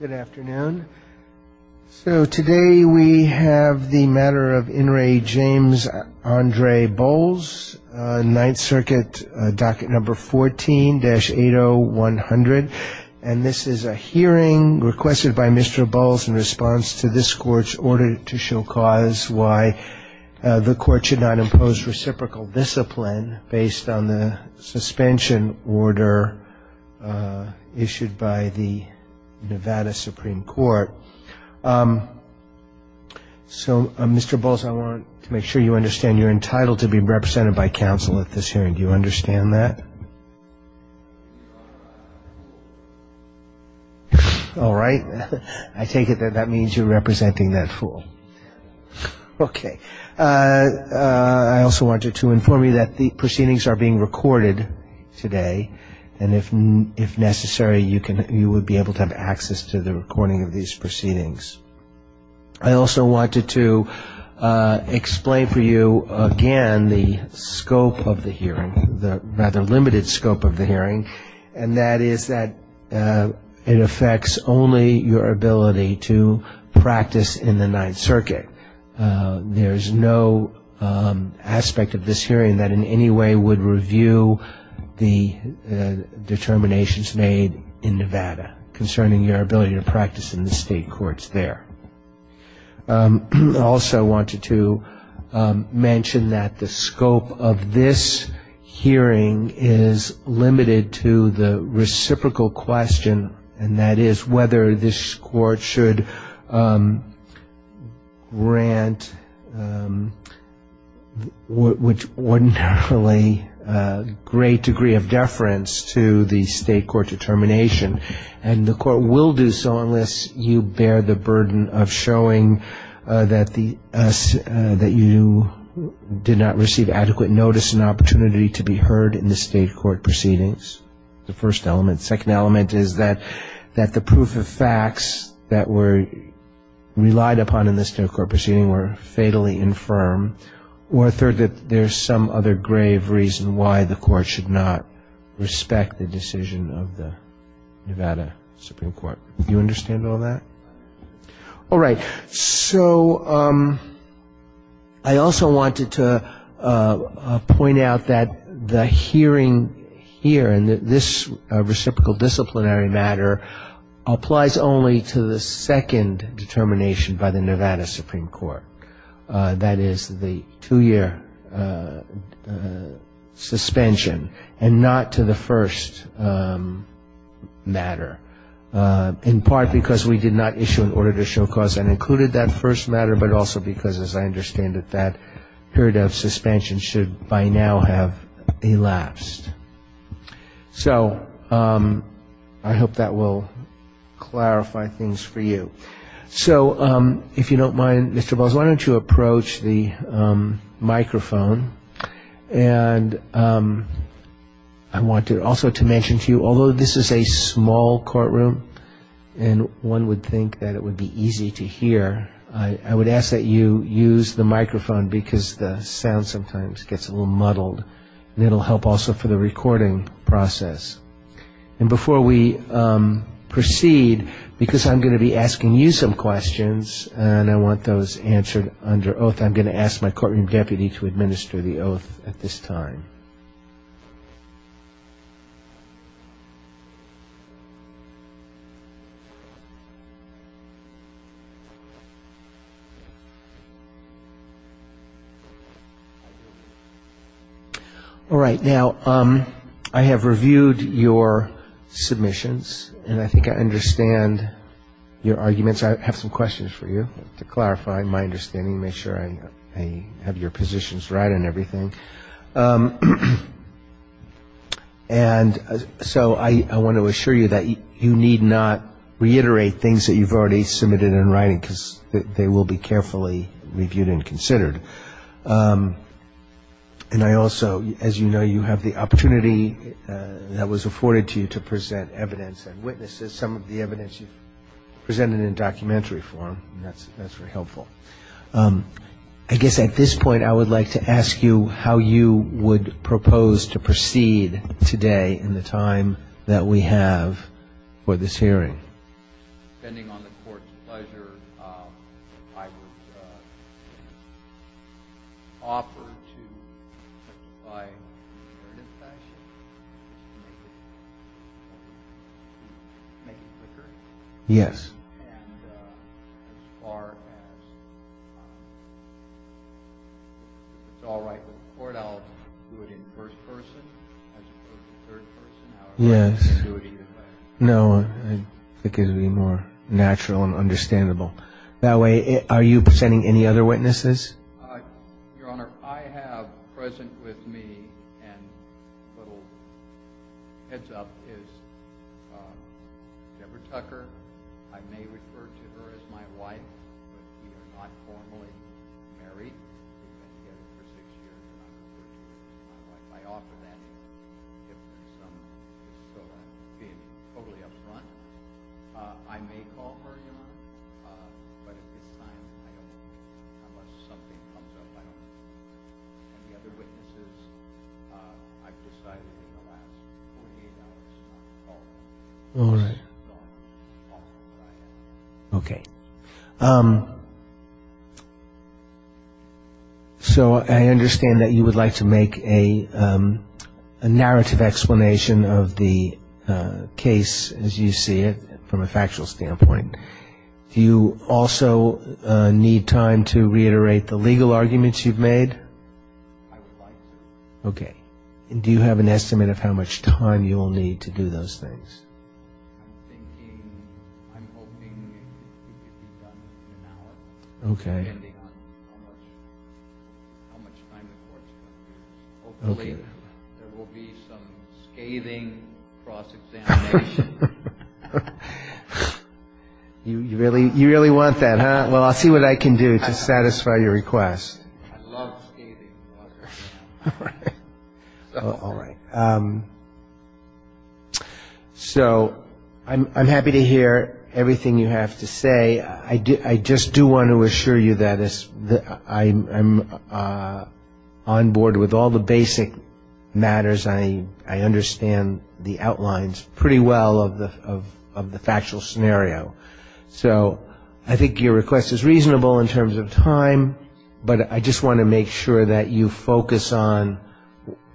Good afternoon. So today we have the matter of In re James Andre Boles, Ninth Circuit, docket number 14-80100, and this is a hearing requested by Mr. Boles in response to this court's order to show cause why the court should not impose reciprocal discipline based on the suspension order issued by the Nevada Supreme Court. So Mr. Boles, I want to make sure you understand you're entitled to be represented by counsel at this hearing. Do you understand that? All right. I take it that that means you're representing that fool. Okay. I also want you to inform me that the proceedings are being recorded today, and if necessary, you would be able to have access to the recording of these proceedings. I also wanted to explain for you again the scope of the hearing, the limited scope of the hearing, and that is that it affects only your ability to practice in the Ninth Circuit. There's no aspect of this hearing that in any way would review the determinations made in Nevada concerning your ability to practice in the state courts there. I also wanted to mention that the scope of this hearing is limited to the reciprocal question, and that is whether this court should grant what's ordinarily a great degree of determination, and the court will do so unless you bear the burden of showing that you did not receive adequate notice and opportunity to be heard in the state court proceedings, the first element. The second element is that the proof of facts that were relied upon in the state court proceeding were fatally infirm, or third, that there's some other grave reason why the court should not respect the decision of the Nevada Supreme Court. Do you understand all that? All right. So I also wanted to point out that the hearing here, and this reciprocal disciplinary matter, applies only to the second determination by the Nevada Supreme Court, that is the two-year suspension, and not to the first matter, in part because we did not issue an order to show cause that included that first matter, but also because, as I understand it, that period of suspension should by now have elapsed. So I hope that will clarify things for you. So if you don't mind, Mr. Bozell, why don't you approach the microphone. And I want to also mention to you, although this is a small courtroom, and one would think that it would be easy to hear, I would ask that you use the microphone because the sound sometimes gets a little muddled, and it'll help also for the recording process. And before we proceed, because I'm going to be asking you some questions, and I want those answered under oath, I'm going to ask my courtroom deputy to administer the oath at this time. All right. Now, I have reviewed your submissions, and I think I understand your arguments. I have some questions for you. To clarify my understanding, make sure I have your positions right and everything. And so I want to assure you that you need not reiterate things that you've already submitted in writing, because they will be carefully reviewed and considered. And I also, as you know, you have the opportunity that was afforded to you to present evidence and witnesses, some of the evidence you've presented in documentary form, and that's very helpful. I guess at this point, I would like to ask you how you would propose to proceed today in the time that we have for this hearing. Depending on the court's pleasure, I would offer to apply for an infraction, make a consideration. Yes. And as far as it's all right with the court, I'll do it in first person, third person. Yes. No, I think it would be more natural and understandable. That way, are you presenting any other witnesses? Your Honor, I have present with me, and a little heads up, is Deborah Tucker. I may refer to her as my wife, not formally married, and I offer that. I may call her a humor, but at this time, I don't think it's a good idea unless somebody comes up to her. The other witnesses, I preside that they come back, and we'll be able to call them. Okay. Okay. So I understand that you would like to make a narrative explanation of the case as you see it from a factual standpoint. Do you also need time to reiterate the legal arguments you've made? Okay. Do you have an estimate of how much time you will need to do those things? Okay. Okay. You really want that, huh? Well, I'll see what I can do to satisfy your request. All right. So I'm happy to hear everything you have to say. I just do want to assure you that I'm on board with all the basic matters. I understand the outlines pretty well of the factual scenario. So I think your request is reasonable in terms of time, but I just want to make sure that you focus on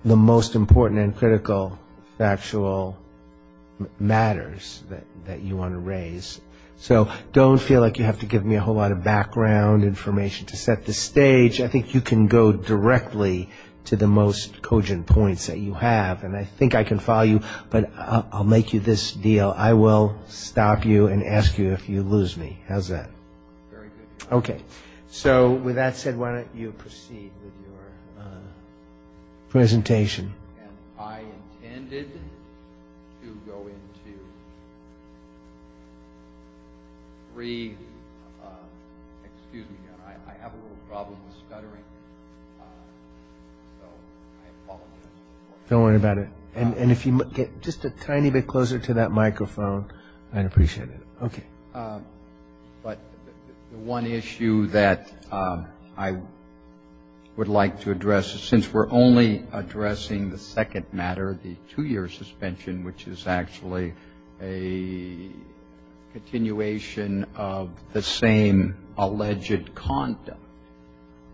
the most important and critical factual matters that you want to raise. So don't feel like you have to give me a whole lot of background information to set the stage. I think you can go directly to the most cogent points that you have, and I think I can follow you, but I'll make you this deal. I will stop you and ask you if you lose me. How's that? Very good. Okay. So with that said, why don't you proceed with your presentation? And I intended to go into three – excuse me. I have a little problem with scuttering. So I apologize. Don't worry about it. And if you get just a tiny bit closer to that microphone, I'd appreciate it. Okay. But one issue that I would like to address, since we're only addressing the second matter, the two-year suspension, which is actually a continuation of the same alleged conduct,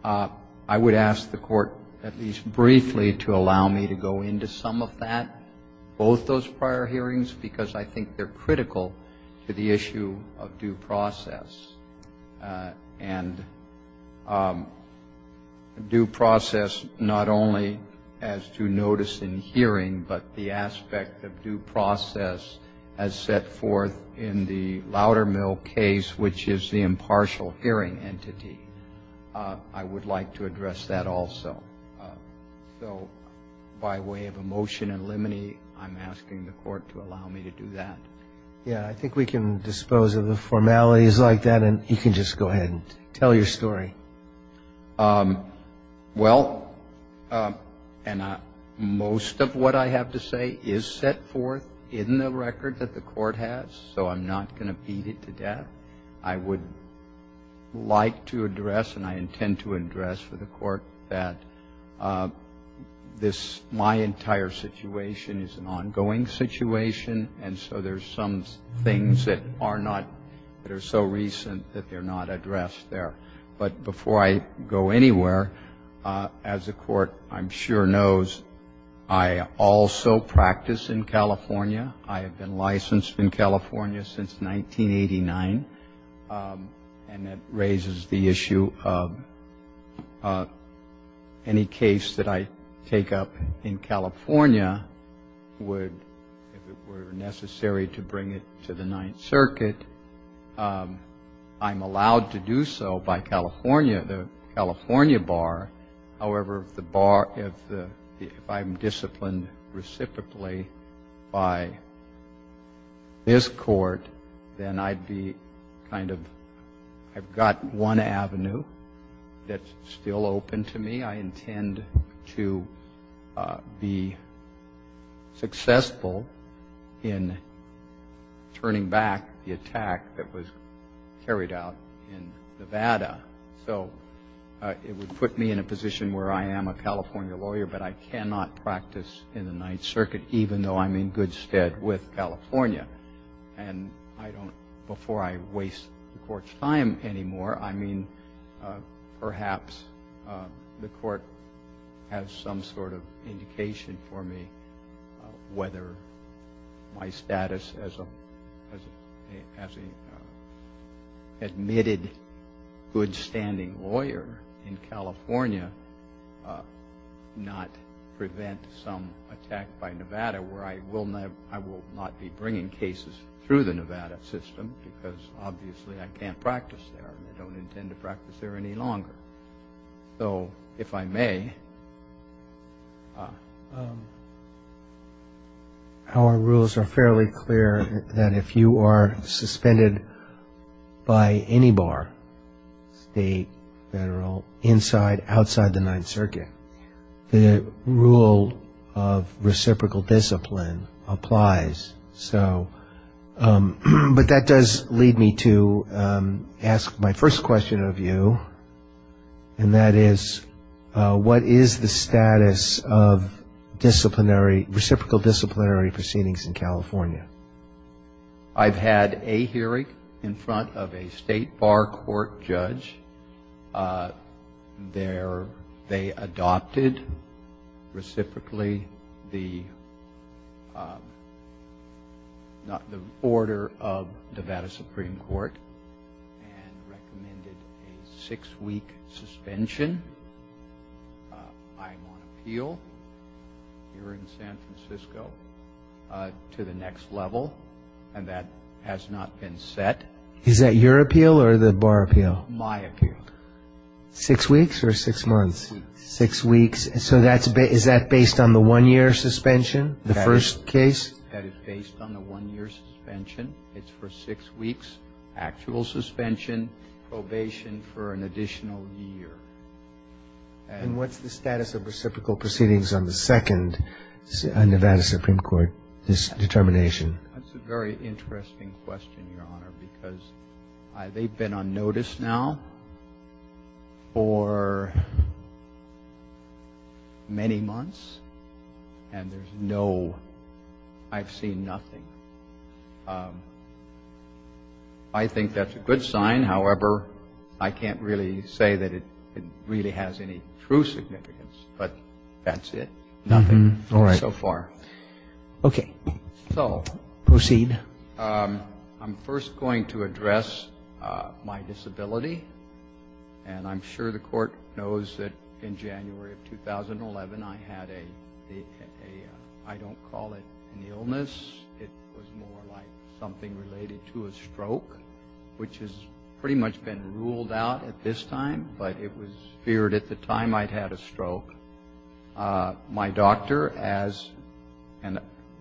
I would ask the Court at least briefly to allow me to go into some of that, both those prior hearings, because I think they're critical to the issue of due process. And due process not only has due notice in hearing, but the aspect of due process as set forth in the Loudermill case, which is the impartial hearing entity. I would like to address that also. So by way of a motion in limine, I'm asking the Court to allow me to do that. Yeah. I think we can dispose of the formalities like that, and you can just go ahead and tell your story. Well, and most of what I have to say is set forth in the record that the Court has, so I'm not going to feed it to that. I would like to address, and I intend to address for the Court, that my entire situation is an ongoing situation, and so there's some things that are so recent that they're not addressed there. But before I go anywhere, as the Court, I'm sure, knows, I also practice in California. I have been licensed in California since 1989, and that raises the issue of any case that I take up in California would be necessary to bring it to the Ninth Circuit. I'm allowed to do so by California, the California bar. However, the bar, if I'm disciplined reciprocally by this Court, then I'd be kind of, I've got one avenue that's still open to me. I intend to be successful in turning back the attack that was carried out in Nevada, so it would put me in a position where I am a California lawyer, but I cannot practice in the Ninth Circuit, even though I'm in good stead with California. And before I waste the Court's time anymore, I mean, perhaps the Court has some sort of indication for me whether my status as an admitted, good-standing lawyer in California not prevent some attack by Nevada, where I will not be bringing cases through the Nevada system, because obviously I can't practice there, and I don't intend to practice there any longer. So, if I may. Our rules are fairly clear that if you are suspended by any bar, the Federal, inside, outside the Ninth Circuit, the rule of reciprocal discipline applies. But that does lead me to ask my first question of you, and that is, what is the status of disciplinary, reciprocal disciplinary proceedings in California? I've had a hearing in front of a state bar court judge. They adopted, reciprocally, the order of the Nevada Supreme Court, and recommended a six-week suspension. I am on appeal here in San Francisco to the next level, and that has not been set. Is that your appeal or the bar appeal? My appeal. Six weeks or six months? Six weeks. So, is that based on the one-year suspension, the first case? That is based on the one-year suspension. It's for six weeks, actual suspension, probation for an additional year. And what's the status of reciprocal proceedings on the second Nevada Supreme Court determination? That's a very interesting question, Your Honor, because they've been on notice now for many months, and there's no, I've seen nothing. I think that's a good sign. However, I can't really say that it really has any true significance, but that's it. Nothing so far. Okay. So, proceed. I'm first going to address my disability, and I'm sure the court knows that in January of 2011, I had a, I don't call it an illness, it was more like something related to a stroke, which has pretty much been ruled out at this time, but it was feared at the time I'd had a stroke. My doctor, as,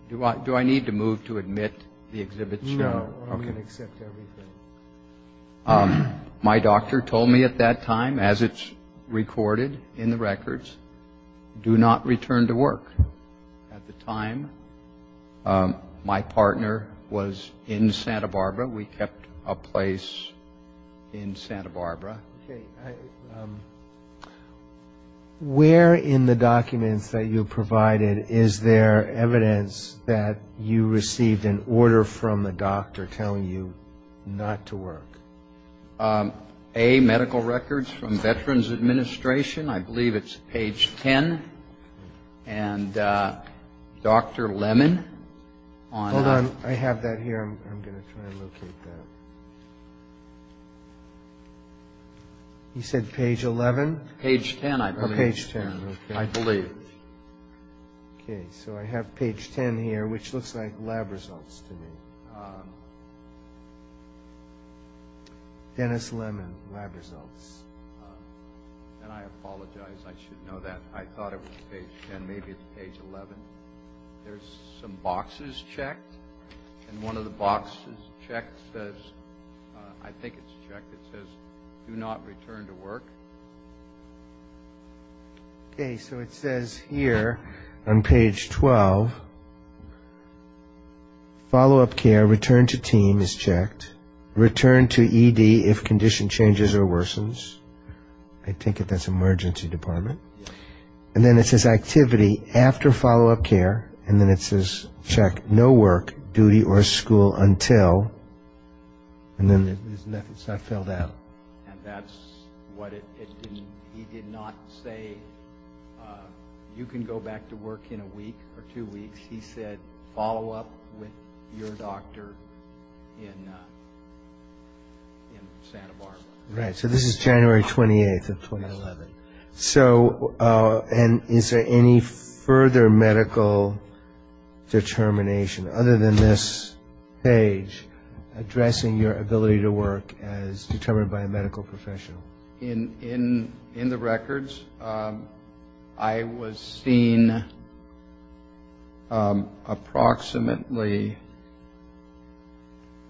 do I need to move to admit the exhibits? No, we can accept everything. My doctor told me at that time, as it's recorded in the records, do not return to work. At the time, my partner was in Santa Barbara. We kept a place in Santa Barbara. Where in the documents that you provided, is there evidence that you received an order from the doctor telling you not to work? A, medical records from Veterans Administration. I believe it's page 10. And Dr. Lemon. Hold on. I have that here. I'm going to try and locate that. You said page 11? Page 10, I believe. Page 10, okay. I believe. Okay, so I have page 10 here, which looks like lab results to me. Dennis Lemon, lab results. And I apologize, I should know that. I thought it was page 10, maybe it's page 11. There's some boxes checked. And one of the boxes checked says, I think it's checked, it says do not return to work. Okay, so it says here on page 12, follow-up care, return to team is checked. Return to ED if condition changes or worsens. I take it that's emergency department. And then it says activity after follow-up care. And then it says check no work, duty, or school until. And then it's not filled out. And that's what it didn't, he did not say you can go back to work in a week or two weeks. He said follow-up with your doctor in Santa Barbara. Right, so this is January 28th of 2011. So, and is there any further medical determination other than this page, addressing your ability to work as determined by a medical professional? In the records, I was seen approximately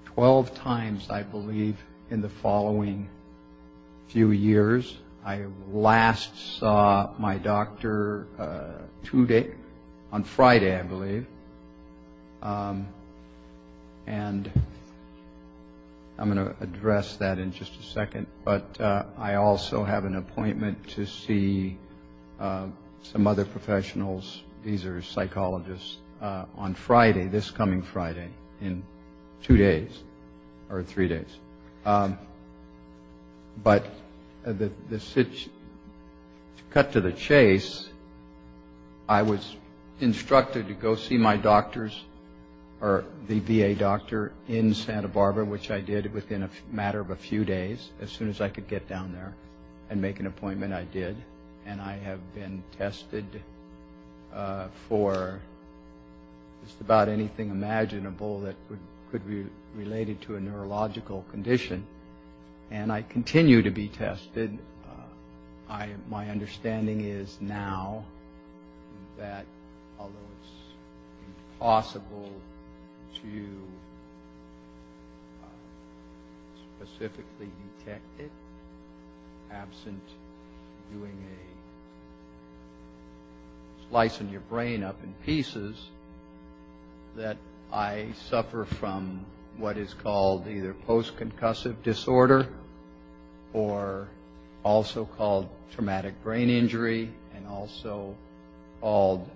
12 times, I believe, in the following few years. I last saw my doctor two days, on Friday, I believe. And I'm going to address that in just a second. But I also have an appointment to see some other professionals, these are psychologists, on Friday, this coming Friday, in two days, or three days. But to cut to the chase, I was instructed to go see my doctors, or the VA doctor in Santa Barbara, which I did within a matter of a few days, as soon as I could get down there and make an appointment, I did. And I have been tested for just about anything imaginable that could be related to a neurological condition. And I continue to be tested. My understanding is now that although it's impossible to specifically detect it, perhaps in doing a slice of your brain up in pieces, that I suffer from what is called either post-concussive disorder, or also called traumatic brain injury, and also called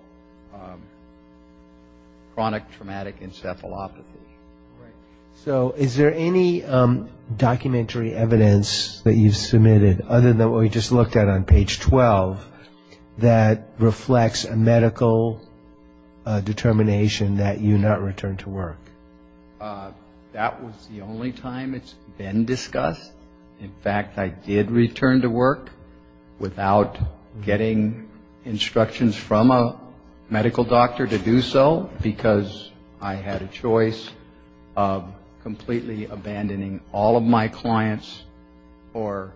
chronic traumatic encephalopathy. So, is there any documentary evidence that you've submitted, other than what we just looked at on page 12, that reflects a medical determination that you not return to work? That was the only time it's been discussed. In fact, I did return to work without getting instructions from a medical doctor to do so, because I had a choice of completely abandoning all of my clients, or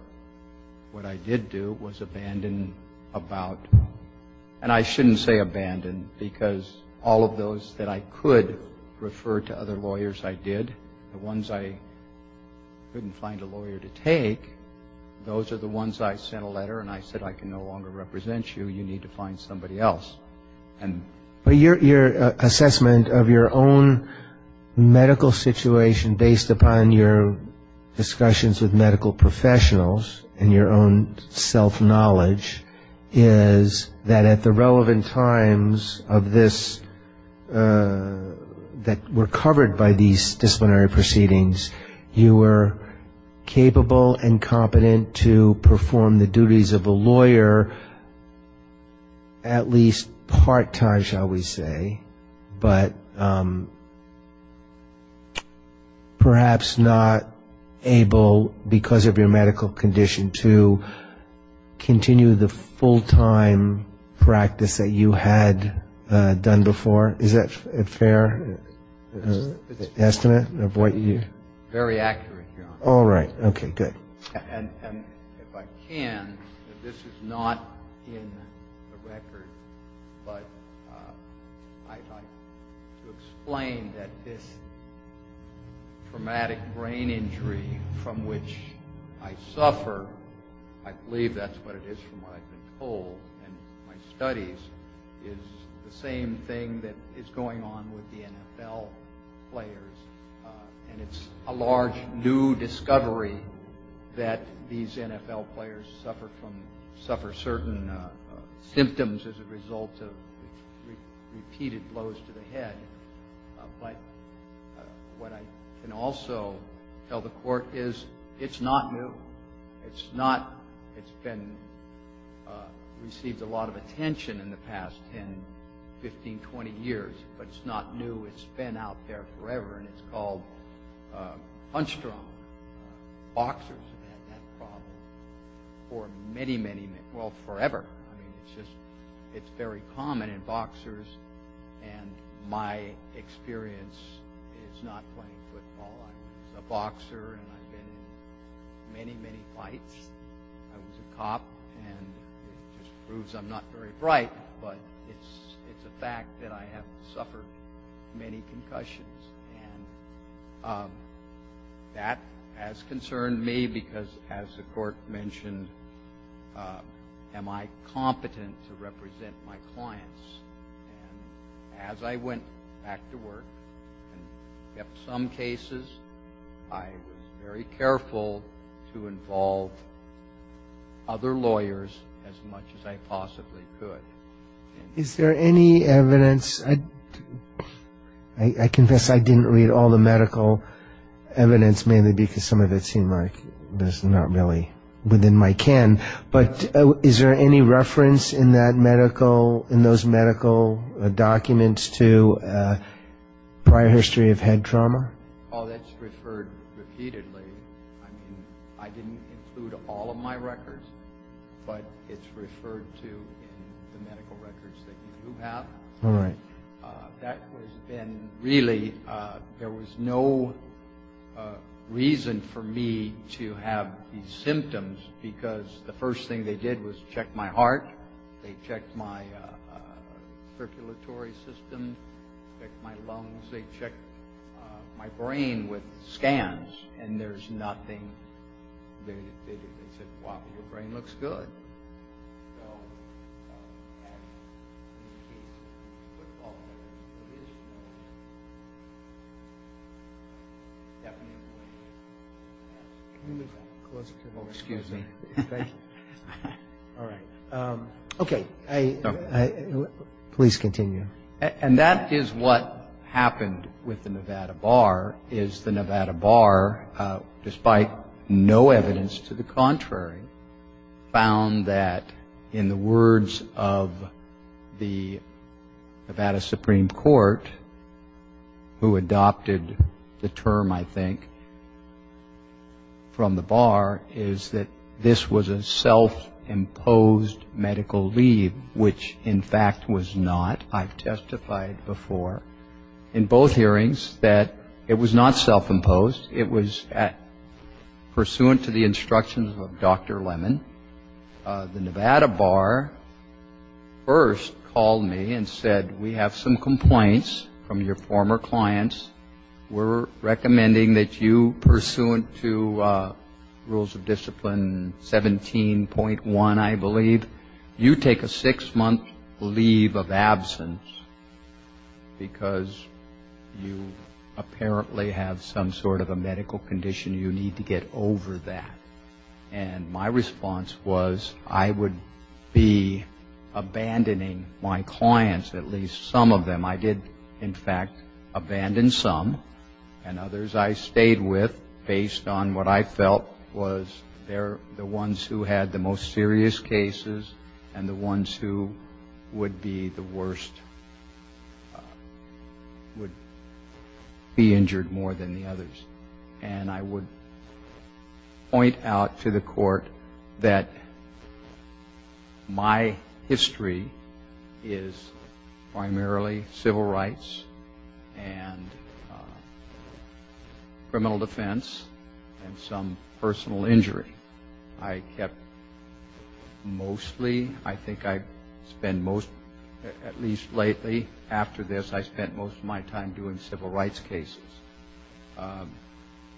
what I did do was abandon about, and I shouldn't say abandon, because all of those that I could refer to other lawyers I did, the ones I couldn't find a lawyer to take, those are the ones I sent a letter and I said, I can no longer represent you, you need to find somebody else. Your assessment of your own medical situation, based upon your discussions with medical professionals, and your own self-knowledge, is that at the relevant times of this, that were covered by these disciplinary proceedings, you were capable and competent to perform the duties of a lawyer, at least part-time, shall we say, but perhaps not able, because of your medical condition, to continue the full-time practice that you had done before? Is that fair? It's an estimate of what you did? Very accurate. All right, okay, good. If I can, this is not in the record, but I'd like to explain that this traumatic brain injury from which I suffer, I believe that's what it is from what I can pull in my studies, is the same thing that is going on with the NFL players, and it's a large new discovery that these NFL players suffer certain symptoms as a result of repeated blows to the head, but what I can also tell the court is it's not new, it's been received a lot of attention in the past 10, 15, 20 years, but it's not new, it's been out there forever, and it's called punch drop. Boxers have had that problem for many, many, well, forever. It's very common in boxers, and my experience is not playing football. I'm a boxer, and I've been in many, many fights. I was a cop, and it just proves I'm not very bright, but it's the fact that I have suffered many concussions, and that has concerned me because, as the court mentioned, am I competent to represent my clients? As I went back to work, in some cases, I was very careful to involve other lawyers as much as I possibly could. Is there any evidence? I confess I didn't read all the medical evidence, maybe because some of it seemed like it was not really within my ken, but is there any reference in those medical documents to prior history of head trauma? Oh, that's referred repeatedly. I mean, I didn't include all of my records, but it's referred to in the medical records that you do have. All right. That was then, really, there was no reason for me to have these symptoms because the first thing they did was check my heart, they checked my circulatory system, they checked my lungs, they checked my brain with scans, and there's nothing. They said, wow, your brain looks good. Oh, excuse me. All right. Okay. Please continue. And that is what happened with the Nevada Bar, is the Nevada Bar, despite no evidence to the contrary, found that, in the words of the Nevada Supreme Court, who adopted the term, I think, from the bar, is that this was a self-imposed medical leave, which, in fact, was not. I've testified before in both hearings that it was not self-imposed. It was pursuant to the instructions of Dr. Lemon. The Nevada Bar first called me and said, we have some complaints from your former clients. We're recommending that you, pursuant to Rules of Discipline 17.1, I believe, you take a six-month leave of absence because you apparently have some sort of a medical condition. You need to get over that. And my response was I would be abandoning my clients, at least some of them. I did, in fact, abandon some, and others I stayed with based on what I felt was they're the ones who had the most serious cases and the ones who would be the worst, would be injured more than the others. And I would point out to the court that my history is primarily civil rights and criminal defense and some personal injury. I kept mostly, I think I spent most, at least lately, after this, I spent most of my time doing civil rights cases.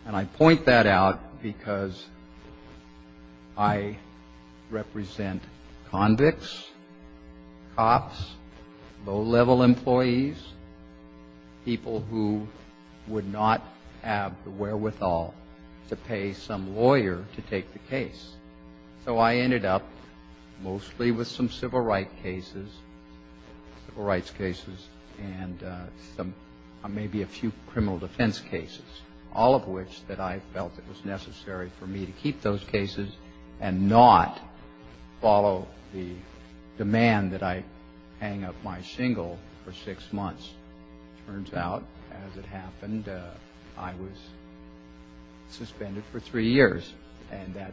And I point that out because I represent convicts, cops, low-level employees, people who would not have the wherewithal to pay some lawyer to take the case. So I ended up mostly with some civil rights cases and maybe a few criminal defense cases, all of which that I felt it was necessary for me to keep those cases and not follow the demand that I hang up my shingle for six months. Turns out, as it happened, I was suspended for three years. And that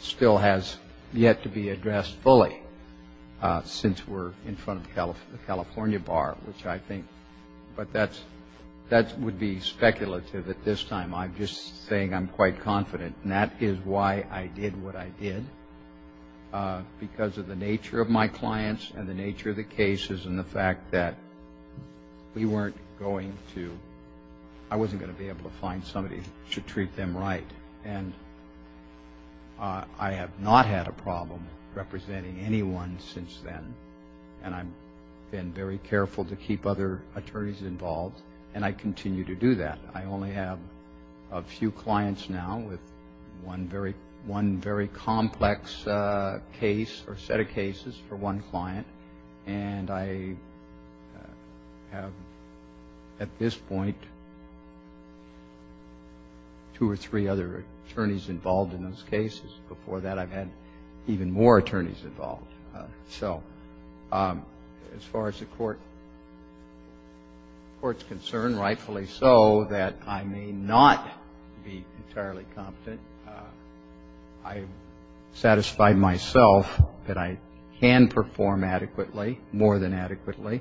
still has yet to be addressed fully since we're in front of the California bar, which I think that would be speculative at this time. I'm just saying I'm quite confident, and that is why I did what I did, because of the nature of my clients and the nature of the cases and the fact that we weren't going to, I wasn't going to be able to find somebody to treat them right. And I have not had a problem representing anyone since then, and I've been very careful to keep other attorneys involved, and I continue to do that. I only have a few clients now with one very complex case or set of cases for one client, and I have at this point two or three other attorneys involved in those cases. Before that, I've had even more attorneys involved. So as far as the court's concerned, rightfully so, that I may not be entirely confident, I've satisfied myself that I can perform adequately, more than adequately,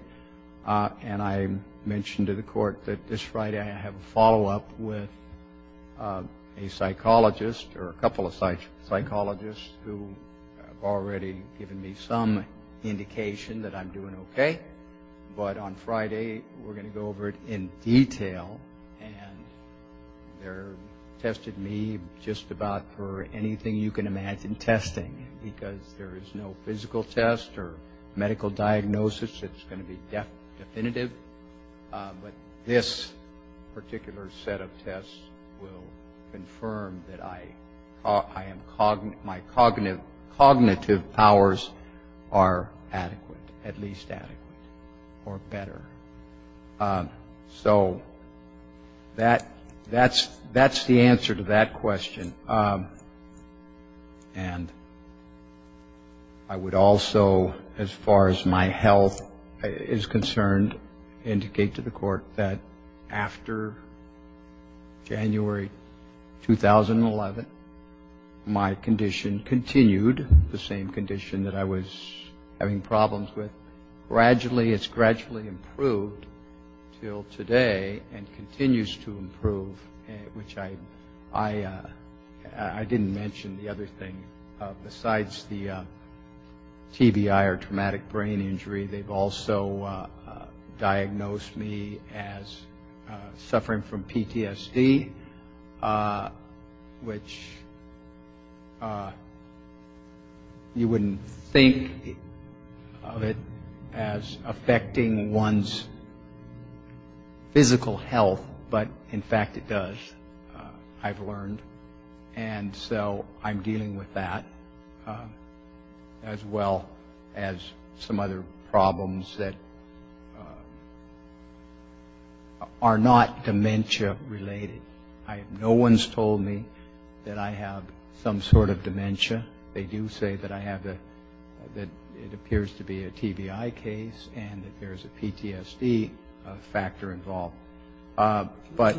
and I mentioned to the court that this Friday I have a follow-up with a psychologist or a couple of psychologists who have already given me some indication that I'm doing okay. But on Friday, we're going to go over it in detail, and they've tested me just about for anything you can imagine testing, because there is no physical test or medical diagnosis that's going to be definitive. But this particular set of tests will confirm that my cognitive powers are adequate, at least adequate, or better. So that's the answer to that question. And I would also, as far as my health is concerned, indicate to the court that after January 2011, my condition continued, the same condition that I was having problems with. Gradually, it's gradually improved until today and continues to improve, which I didn't mention the other thing. Besides the TBI or traumatic brain injury, they've also diagnosed me as suffering from PTSD, which you wouldn't think of it as affecting one's physical health, but in fact it does, I've learned. And so I'm dealing with that, as well as some other problems that are not dementia-related. No one's told me that I have some sort of dementia. They do say that it appears to be a TBI case and that there's a PTSD factor involved. But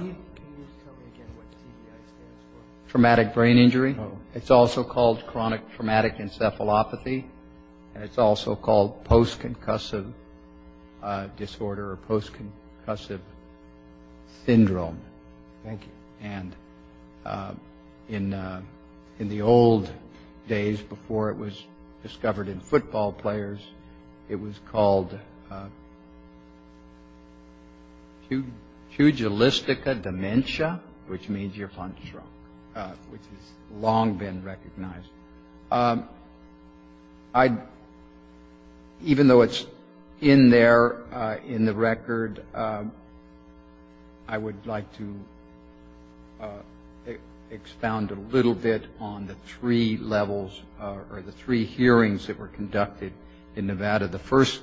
traumatic brain injury, it's also called chronic traumatic encephalopathy, and it's also called post-concussive disorder or post-concussive syndrome. Thank you. And in the old days, before it was discovered in football players, it was called pugilistica dementia, which means you're functional, which has long been recognized. Thank you. Even though it's in there in the record, I would like to expound a little bit on the three levels or the three hearings that were conducted in Nevada. The first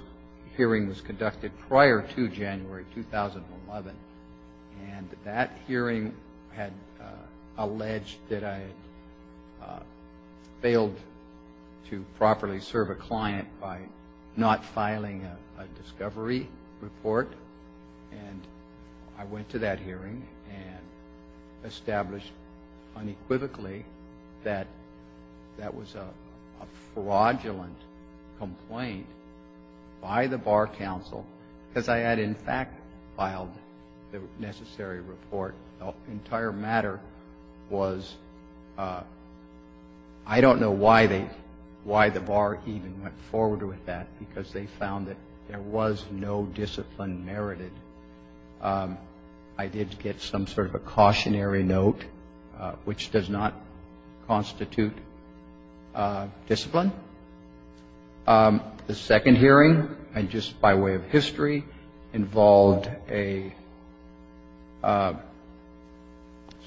hearing was conducted prior to January 2011, and that hearing had alleged that I failed to properly serve a client by not filing a discovery report. And I went to that hearing and established unequivocally that that was a fraudulent complaint by the Bar Council because I had, in fact, filed the necessary report. The entire matter was, I don't know why the Bar even went forward with that, because they found that there was no discipline merited. I did get some sort of a cautionary note, which does not constitute discipline. The second hearing, and just by way of history, involved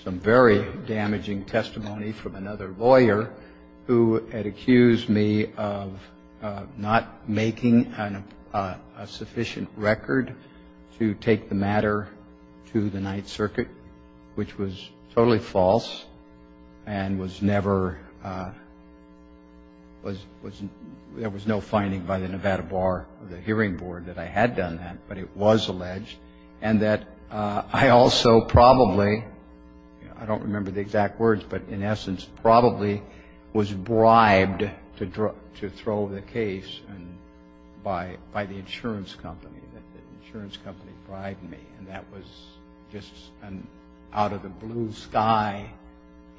some very damaging testimony from another lawyer who had accused me of not making a sufficient record to take the matter to the Ninth Circuit, which was totally false and there was no finding by the Nevada hearing board that I had done that, but it was alleged, and that I also probably, I don't remember the exact words, but in essence probably was bribed to throw the case by the insurance company, that the insurance company bribed me. And that was just an out-of-the-blue-sky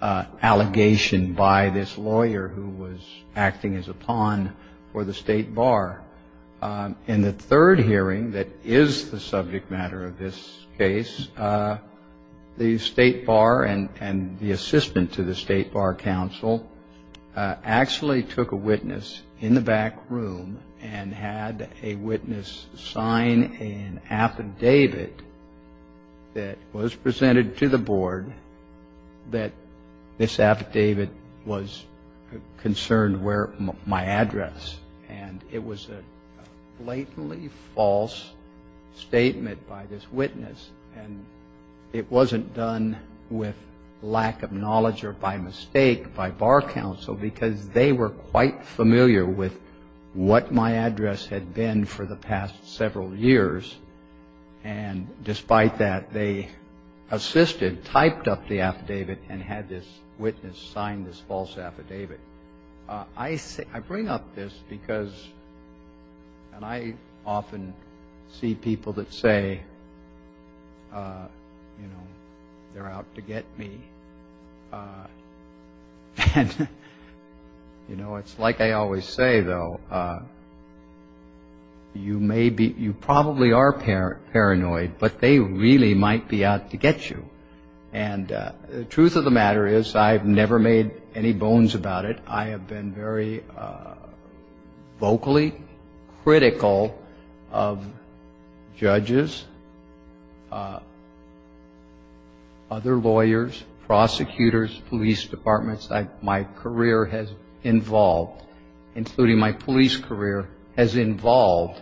allegation by this lawyer who was acting as a pawn for the state bar. In the third hearing that is the subject matter of this case, the state bar and the assistant to the state bar council actually took a witness in the back room and had a witness sign an affidavit that was presented to the board that this affidavit was concerned with my address. And it was a blatantly false statement by this witness, and it wasn't done with lack of knowledge or by mistake by bar council because they were quite familiar with what my address had been for the past several years, and despite that they assisted, typed up the affidavit, and had this witness sign this false affidavit. I bring up this because, and I often see people that say, you know, they're out to get me. And, you know, it's like I always say, though, you probably are paranoid, but they really might be out to get you. And the truth of the matter is I have never made any bones about it. I have been very vocally critical of judges, other lawyers, prosecutors, police departments. My career has involved, including my police career, has involved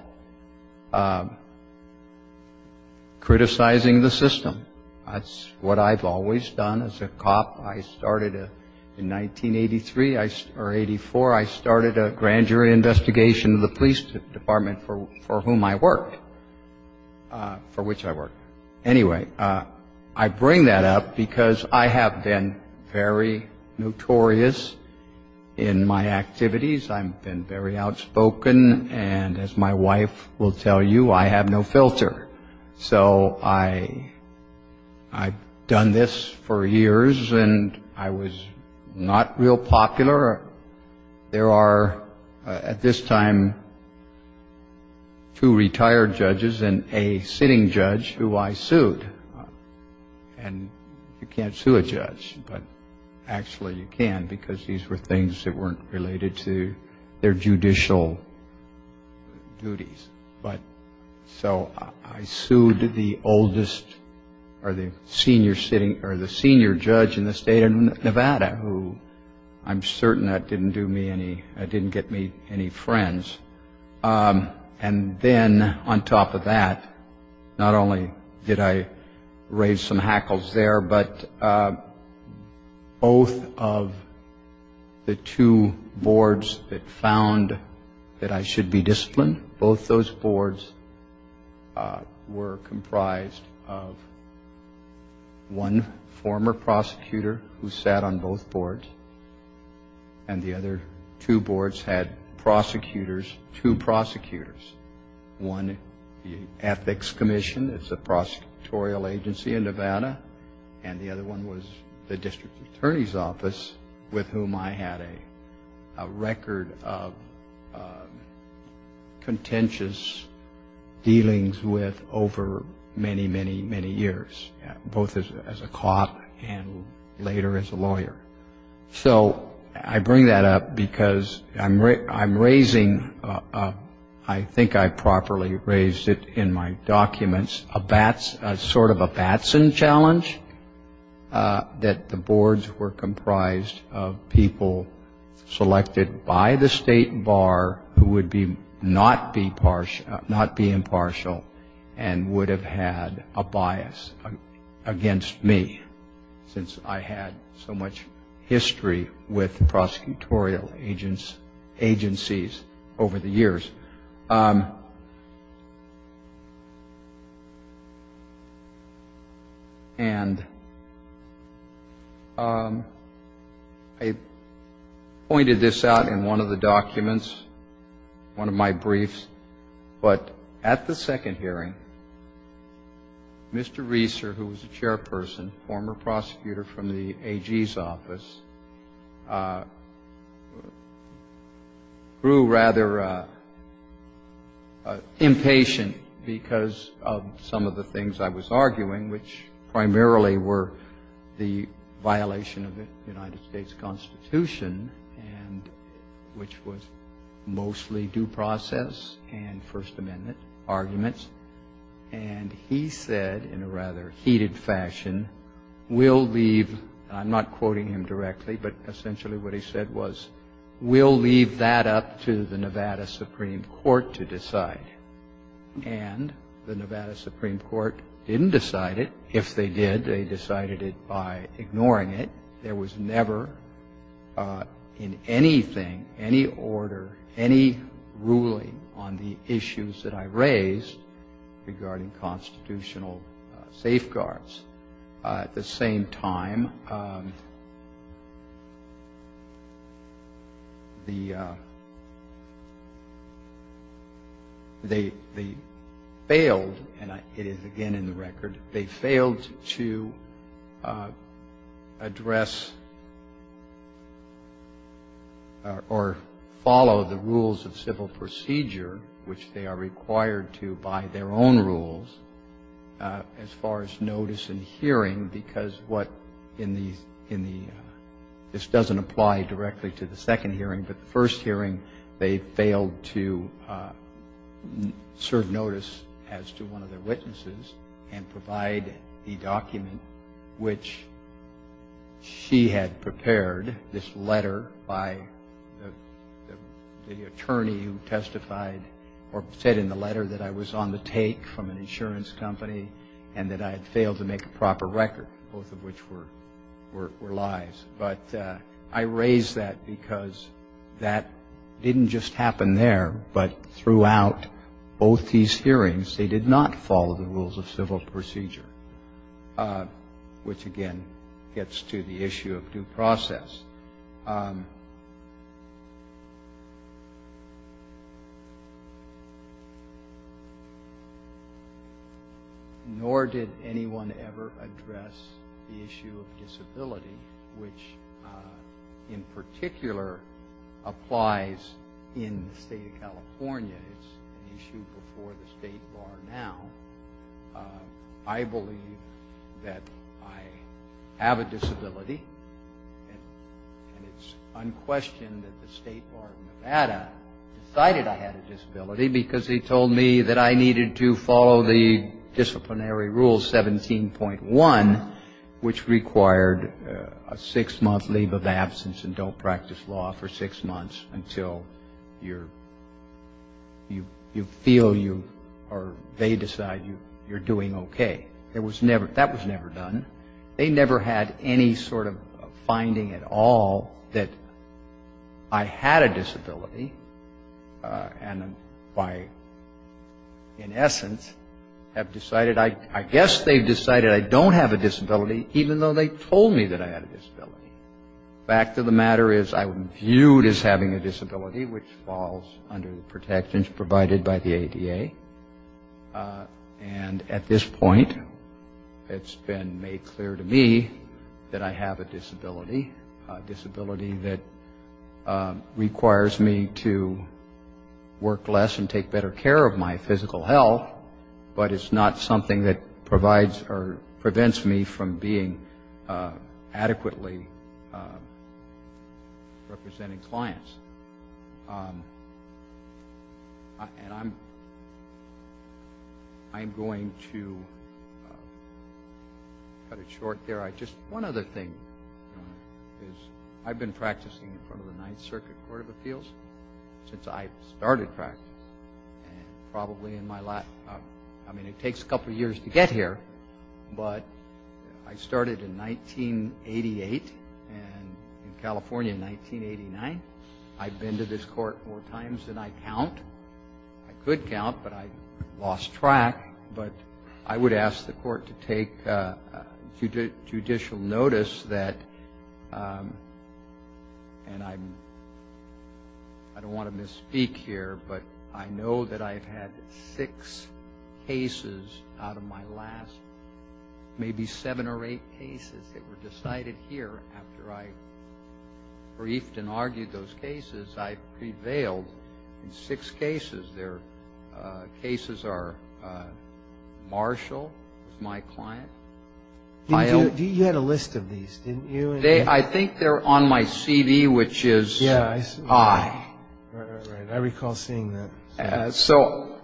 criticizing the system. That's what I've always done as a cop. I started in 1983 or 84, I started a grand jury investigation of the police department for whom I worked, for which I worked. Anyway, I bring that up because I have been very notorious in my activities. I've been very outspoken, and as my wife will tell you, I have no filter. So I've done this for years, and I was not real popular. There are, at this time, two retired judges and a sitting judge who I sued. And you can't sue a judge, but actually you can because these were things that weren't related to their judicial duties. So I sued the oldest or the senior judge in the state of Nevada, who I'm certain that didn't get me any friends. And then on top of that, not only did I raise some hackles there, but both of the two boards that found that I should be disciplined, both those boards were comprised of one former prosecutor who sat on both boards, and the other two boards had prosecutors, two prosecutors. One ethics commission, it's a prosecutorial agency in Nevada, and the other one was the district attorney's office with whom I had a record of contentious dealings with over many, many, many years, both as a cop and later as a lawyer. So I bring that up because I'm raising, I think I properly raised it in my documents, a sort of a Batson challenge that the boards were comprised of people selected by the state bar who would not be impartial and would have had a bias against me since I had so much history with prosecutorial agencies over the years. And I pointed this out in one of the documents, one of my briefs, but at the second hearing, Mr. Reeser, who was the chairperson, former prosecutor from the AG's office, grew rather impatient because of some of the things I was arguing, which primarily were the violation of the United States Constitution, which was mostly due process and First Amendment arguments, and he said in a rather heated fashion, we'll leave, I'm not quoting him directly, but essentially what he said was, we'll leave that up to the Nevada Supreme Court to decide. And the Nevada Supreme Court didn't decide it. If they did, they decided it by ignoring it. There was never in anything, any order, any ruling on the issues that I raised regarding constitutional safeguards. At the same time, they failed, and it is again in the record, they failed to address or follow the rules of civil procedure, which they are required to by their own rules, as far as notice and hearing, because this doesn't apply directly to the second hearing, but the first hearing they failed to serve notice as to one of the witnesses and provide the document which she had prepared, this letter by the attorney who testified or said in the letter that I was on the take from an insurance company and that I had failed to make a proper record, both of which were lies. But I raised that because that didn't just happen there, but throughout both these hearings they did not follow the rules of civil procedure, which again gets to the issue of due process. Nor did anyone ever address the issue of disability, which in particular applies in the state of California. It's an issue before the state law now. I believe that I have a disability, and it's unquestioned that the state court in Nevada decided I had a disability because they told me that I needed to follow the disciplinary rule 17.1, which required a six-month leave of absence and don't practice law for six months until you feel or they decide you're doing okay. That was never done. They never had any sort of finding at all that I had a disability and in essence have decided, I guess they've decided I don't have a disability even though they told me that I had a disability. The fact of the matter is I'm viewed as having a disability, which falls under the protections provided by the ADA. And at this point it's been made clear to me that I have a disability, a disability that requires me to work less and take better care of my physical health, but it's not something that provides or prevents me from being adequately representing clients. I'm going to cut it short there. One other thing is I've been practicing in front of the Ninth Circuit Court of Appeals since I started practicing and probably in my last, I mean it takes a couple years to get here, but I started in 1988 and in California in 1989. I've been to this court four times and I count. I could count, but I lost track. But I would ask the court to take judicial notice that, and I don't want to misspeak here, but I know that I've had six cases out of my last maybe seven or eight cases that were decided here after I briefed and argued those cases. I've prevailed in six cases. There are cases where Marshall is my client. You had a list of these, didn't you? I think they're on my CD, which is high. I recall seeing that. So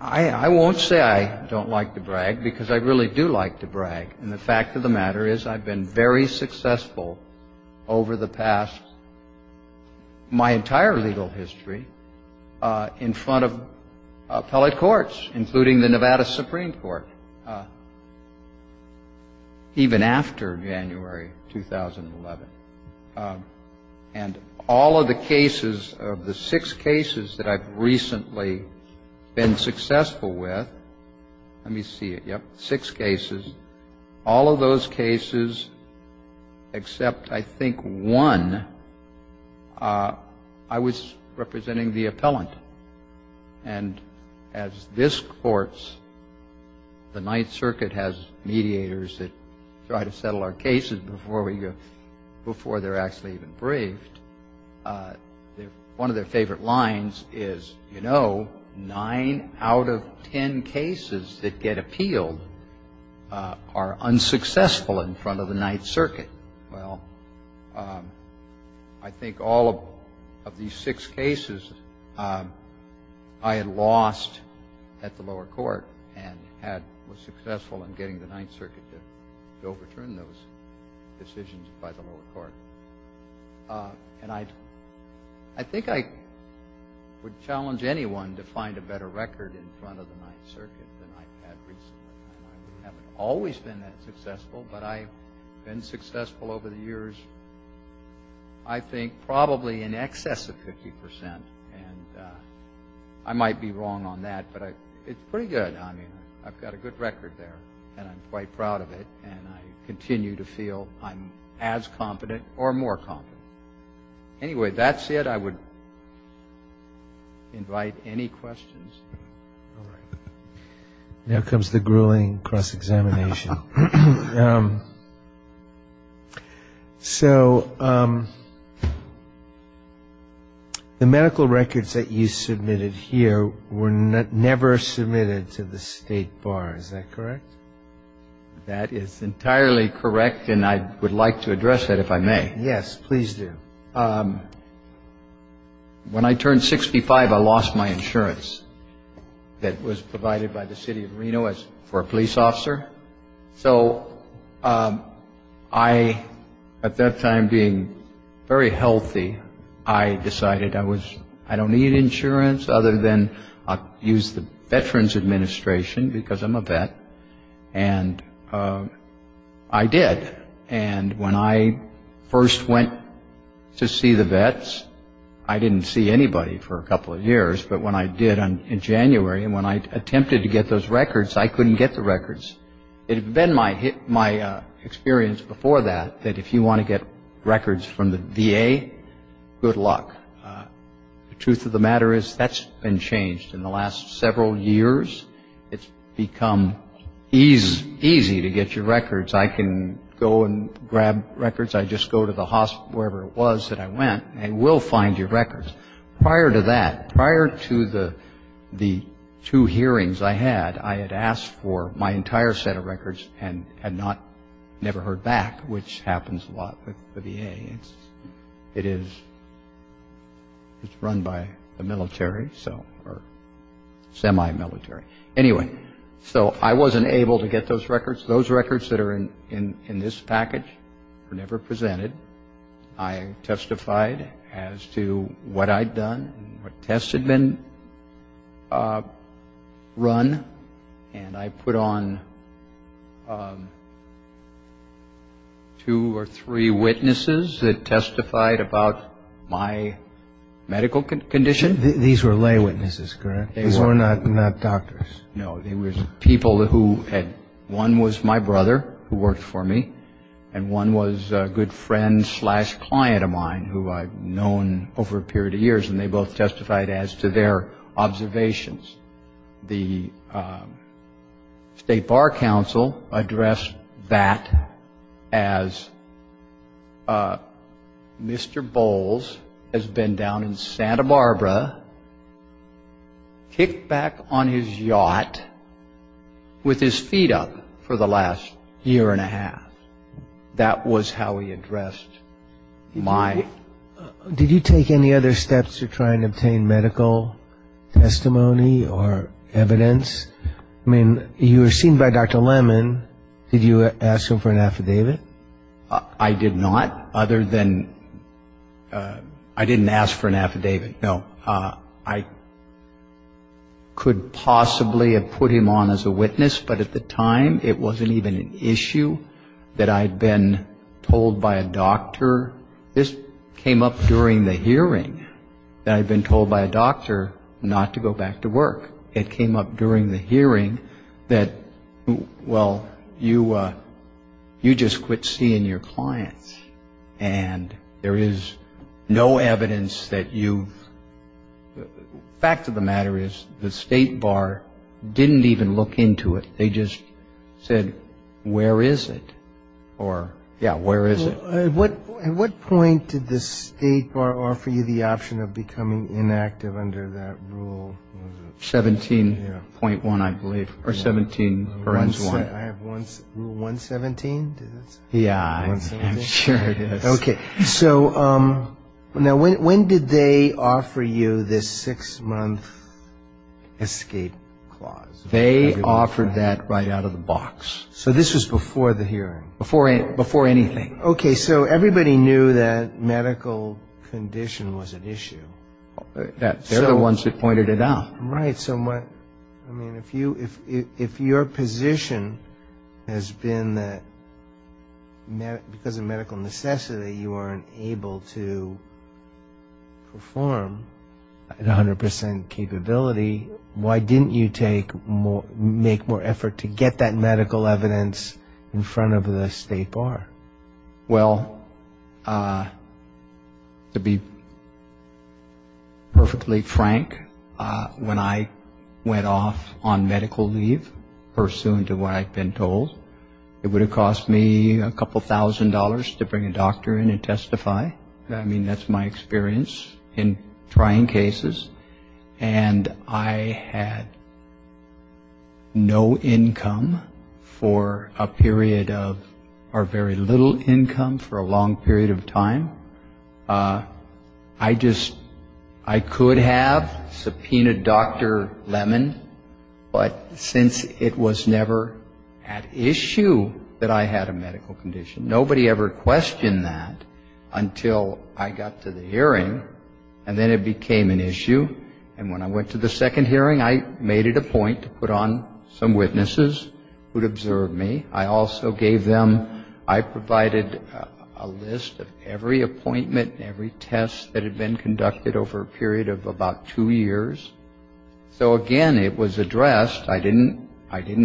I won't say I don't like to brag because I really do like to brag, and the fact of the matter is I've been very successful over the past, my entire legal history, in front of fellow courts, including the Nevada Supreme Court, even after January 2011. And all of the cases, of the six cases that I've recently been successful with, let me see, yep, six cases, all of those cases except, I think, one, I was representing the appellant. And as this court's, the Ninth Circuit has mediators that try to settle our cases before they're actually even briefed, one of their favorite lines is, you know, nine out of ten cases that get appealed are unsuccessful in front of the Ninth Circuit. Well, I think all of these six cases I had lost at the lower court and was successful in getting the Ninth Circuit to overturn those decisions by the lower court. And I think I would challenge anyone to find a better record in front of the Ninth Circuit than I have recently. I haven't always been that successful, but I've been successful over the years, I think, probably in excess of 50 percent. And I might be wrong on that, but it's pretty good. I mean, I've got a good record there, and I'm quite proud of it, and I continue to feel I'm as competent or more competent. Anyway, that's it. I would invite any questions. Now comes the grueling cross-examination. So the medical records that you submitted here were never submitted to the State Bar, is that correct? That is entirely correct, and I would like to address that, if I may. Yes, please do. When I turned 65, I lost my insurance that was provided by the City of Reno for a police officer. So I, at that time, being very healthy, I decided I don't need insurance other than I'll use the Veterans Administration because I'm a vet, and I did. And when I first went to see the vets, I didn't see anybody for a couple of years, but when I did in January, and when I attempted to get those records, I couldn't get the records. It had been my experience before that, that if you want to get records from the VA, good luck. The truth of the matter is that's been changed. In the last several years, it's become easy to get your records. I can go and grab records. I just go to the hospital, wherever it was that I went, and I will find your records. Prior to that, prior to the two hearings I had, I had asked for my entire set of records and had never heard back, which happens a lot with the VA. It is run by the military, or semi-military. Anyway, so I wasn't able to get those records. Those records that are in this package were never presented. I testified as to what I'd done, what tests had been run, and I put on two or three witnesses that testified about my medical condition. These were lay witnesses, correct? These were not doctors. No, they were people who had, one was my brother who worked for me, and one was a good friend slash client of mine who I'd known over a period of years, and they both testified as to their observations. The State Bar Council addressed that as Mr. Bowles has been down in Santa Barbara, kicked back on his yacht with his feet up for the last year and a half. That was how he addressed my... Did you take any other steps to try and obtain medical testimony or evidence? I mean, you were seen by Dr. Lemon. Did you ask him for an affidavit? I did not, other than I didn't ask for an affidavit, no. I could possibly have put him on as a witness, but at the time it wasn't even an issue that I'd been told by a doctor. However, this came up during the hearing that I'd been told by a doctor not to go back to work. It came up during the hearing that, well, you just quit seeing your clients and there is no evidence that you... The fact of the matter is the State Bar didn't even look into it. They just said, where is it? Yeah, where is it? At what point did the State Bar offer you the option of becoming inactive under that rule? 17.1, I believe, or 17.1. I have rule 117. Yeah, I'm sure it is. Okay, so when did they offer you this six-month escape clause? They offered that right out of the box. So this was before the hearing? Before anything. Okay, so everybody knew that medical condition was an issue. They're the ones who pointed it out. Right, so if your position has been that because of medical necessity you weren't able to perform at 100% capability, why didn't you make more effort to get that medical evidence in front of the State Bar? Well, to be perfectly frank, when I went off on medical leave, pursuant to what I'd been told, it would have cost me a couple thousand dollars to bring a doctor in and testify. I mean, that's my experience in trying cases. And I had no income for a period of, or very little income for a long period of time. I just, I could have subpoenaed Dr. Lemon, but since it was never at issue that I had a medical condition, nobody ever questioned that until I got to the hearing, and then it became an issue. And when I went to the second hearing, I made it a point to put on some witnesses who'd observed me. I also gave them, I provided a list of every appointment, every test that had been conducted over a period of about two years. So again, it was addressed. I didn't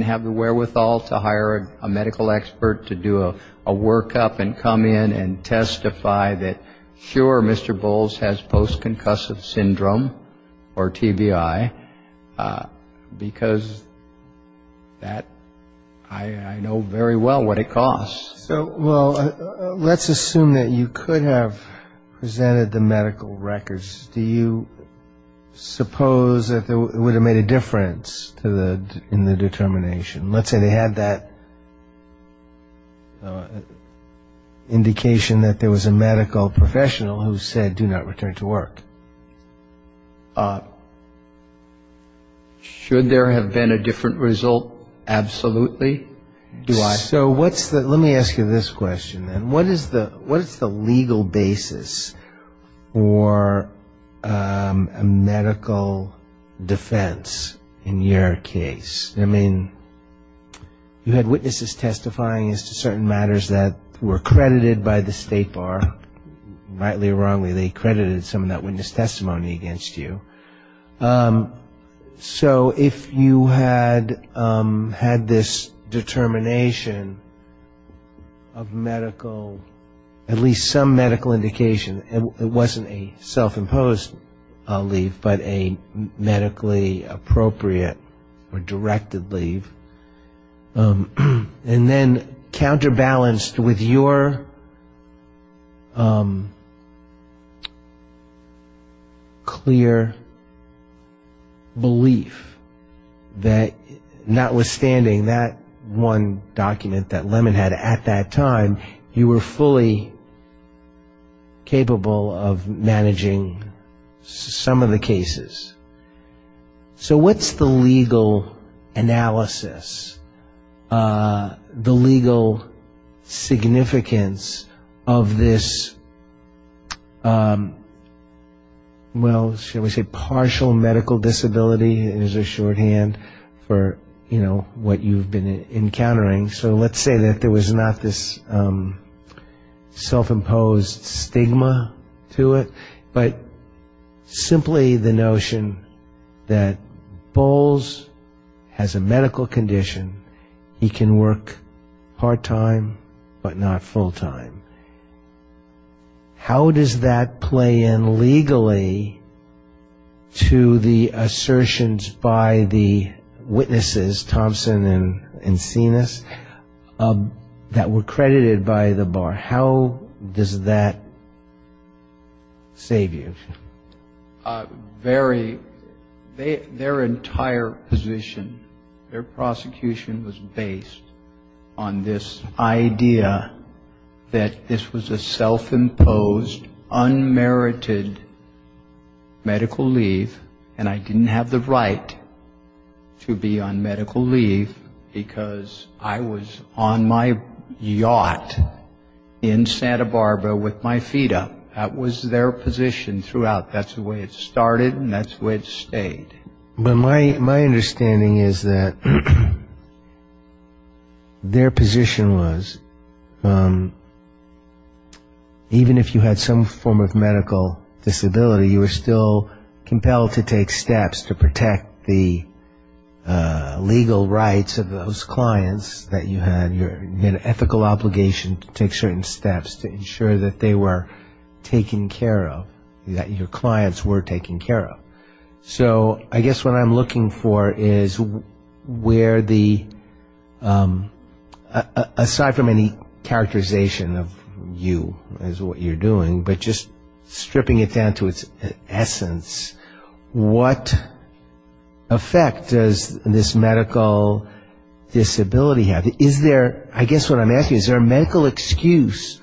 have the wherewithal to hire a medical expert to do a workup and come in and testify that, sure, Mr. Bowles has post-concussive syndrome, or TBI, because that, I know very well what it costs. Well, let's assume that you could have presented the medical records. Do you suppose that it would have made a difference in the determination? Let's say they had that indication that there was a medical professional who said, I do not return to work. Should there have been a different result? Absolutely. Do I? So let me ask you this question then. What is the legal basis for a medical defense in your case? I mean, you had witnesses testifying as to certain matters that were credited by the state or, rightly or wrongly, they credited some of that witness testimony against you. So if you had this determination of medical, at least some medical indication, it wasn't a self-imposed leave, but a medically appropriate or directed leave, and then counterbalanced with your clear belief that, notwithstanding that one document that Lemon had at that time, you were fully capable of managing some of the cases. So what's the legal analysis, the legal significance of this, well, should we say partial medical disability as a shorthand for what you've been encountering? So let's say that there was not this self-imposed stigma to it, but simply the notion that Bowles has a medical condition. He can work part-time, but not full-time. How does that play in legally to the assertions by the witnesses, Thompson and Sinus, that were credited by the bar? How does that save you? Very, their entire position, their prosecution was based on this idea that this was a self-imposed, unmerited medical leave, and I didn't have the right to be on medical leave because I was on my yacht in Santa Barbara with my FIDA. That was their position throughout. That's the way it started, and that's the way it stayed. My understanding is that their position was, even if you had some form of medical disability, you were still compelled to take steps to protect the legal rights of those clients that you had. You had an ethical obligation to take certain steps to ensure that they were taken care of, that your clients were taken care of. So I guess what I'm looking for is where the, aside from any characterization of you as what you're doing, but just stripping it down to its essence, what effect does this medical disability have? Is there, I guess what I'm asking, is there a medical excuse,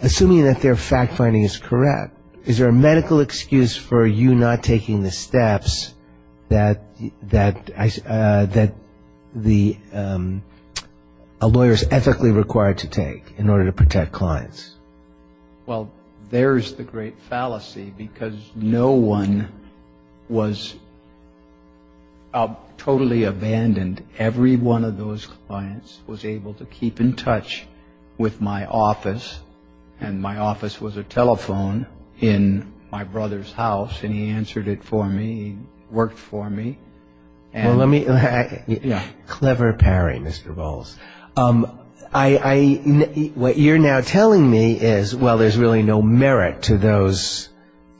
assuming that their fact-finding is correct, is there a medical excuse for you not taking the steps that a lawyer is ethically required to take in order to protect clients? Well, there's the great fallacy because no one was totally abandoned. Every one of those clients was able to keep in touch with my office, and my office was a telephone in my brother's house, and he answered it for me, he worked for me. Clever pairing, Mr. Bowles. What you're now telling me is, well, there's really no merit to those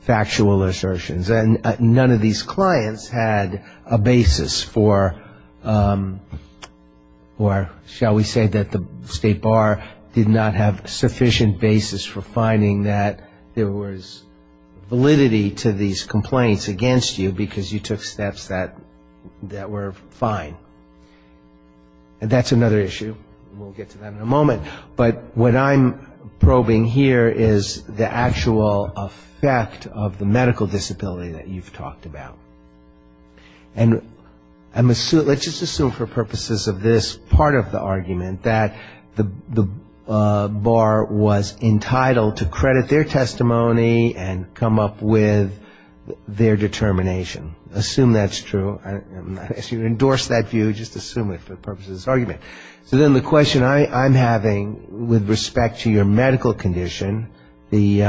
factual assertions, and none of these clients had a basis for, or shall we say that the State Bar did not have sufficient basis for finding that there was validity to these complaints against you because you took steps that were fine. And that's another issue. We'll get to that in a moment. But what I'm probing here is the actual effect of the medical disability that you've talked about. And let's just assume for purposes of this part of the argument that the Bar was entitled to credit their testimony and come up with their determination. Assume that's true. As you endorse that view, just assume it for the purposes of this argument. So then the question I'm having with respect to your medical condition, the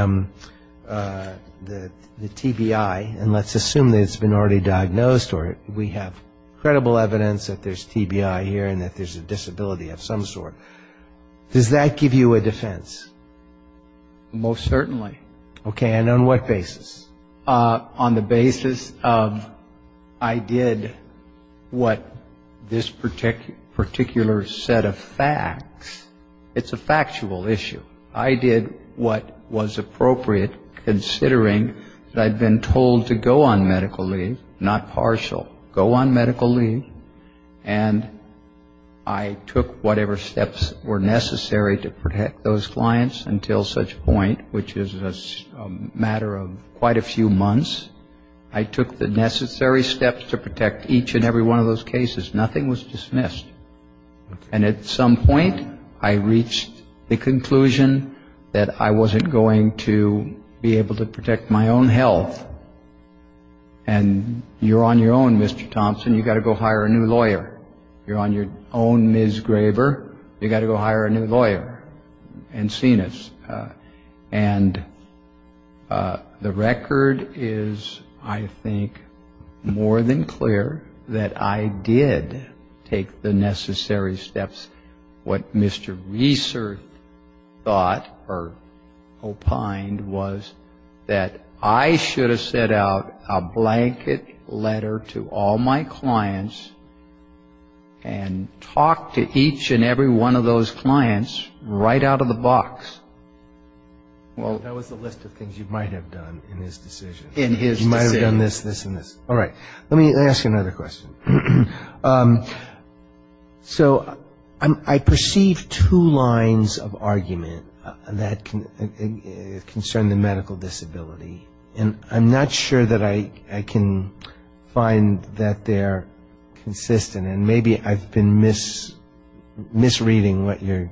TBI, and let's assume that it's been already diagnosed or we have credible evidence that there's TBI here and that there's a disability of some sort. Does that give you a defense? Most certainly. Okay, and on what basis? On the basis of I did what this particular set of facts. It's a factual issue. I did what was appropriate considering that I'd been told to go on medical leave, not partial. Go on medical leave. And I took whatever steps were necessary to protect those clients until such point, which is a matter of quite a few months. I took the necessary steps to protect each and every one of those cases. Nothing was dismissed. And at some point I reached the conclusion that I wasn't going to be able to protect my own health. And you're on your own, Mr. Thompson. You've got to go hire a new lawyer. You're on your own, Ms. Graber. You've got to go hire a new lawyer. And the record is, I think, more than clear that I did take the necessary steps. What Mr. Reeser thought or opined was that I should have sent out a blanket letter to all my clients and talked to each and every one of those clients right out of the box. Well, that was the list of things you might have done in his decision. In his decision. You might have done this, this, and this. All right. Let me ask another question. So I perceive two lines of argument that concern the medical disability. And I'm not sure that I can find that they're consistent. And maybe I've been misreading what you're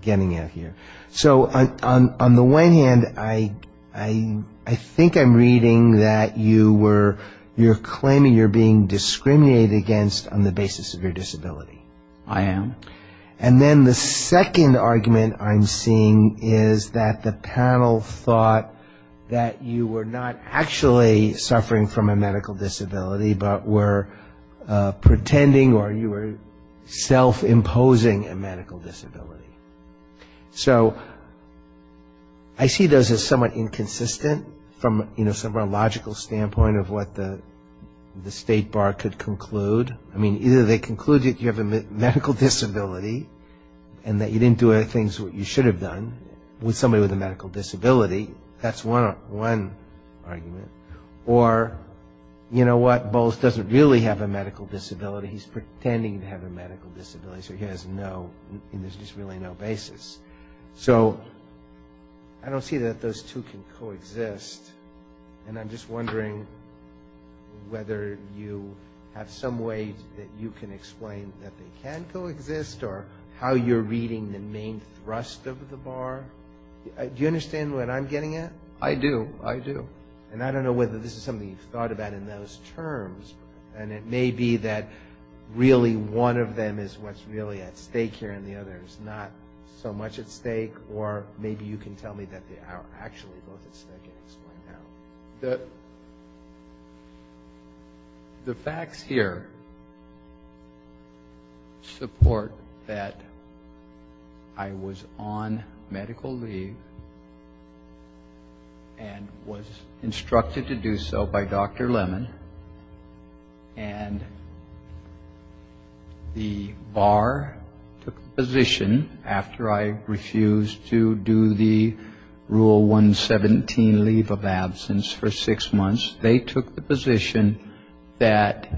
getting at here. So on the one hand, I think I'm reading that you're claiming you're being discriminated against on the basis of your disability. I am. And then the second argument I'm seeing is that the panel thought that you were not actually suffering from a medical disability but were pretending or you were self-imposing a medical disability. So I see those as somewhat inconsistent from a logical standpoint of what the state bar could conclude. I mean, either they conclude that you have a medical disability and that you didn't do any of the things that you should have done with somebody with a medical disability. That's one argument. Or, you know what, Bowles doesn't really have a medical disability. He's pretending to have a medical disability. So he has really no basis. So I don't see that those two can coexist. And I'm just wondering whether you have some way that you can explain that they can coexist or how you're reading the main thrust of the bar. Do you understand what I'm getting at? I do. I do. And I don't know whether this is something you've thought about in those terms. And it may be that really one of them is what's really at stake here and the other is not so much at stake. Or maybe you can tell me that they are actually both at stake at this point. The facts here support that I was on medical leave and was instructed to do so by Dr. Lemon. And the bar took the position, after I refused to do the Rule 117 leave of absence for six months, they took the position that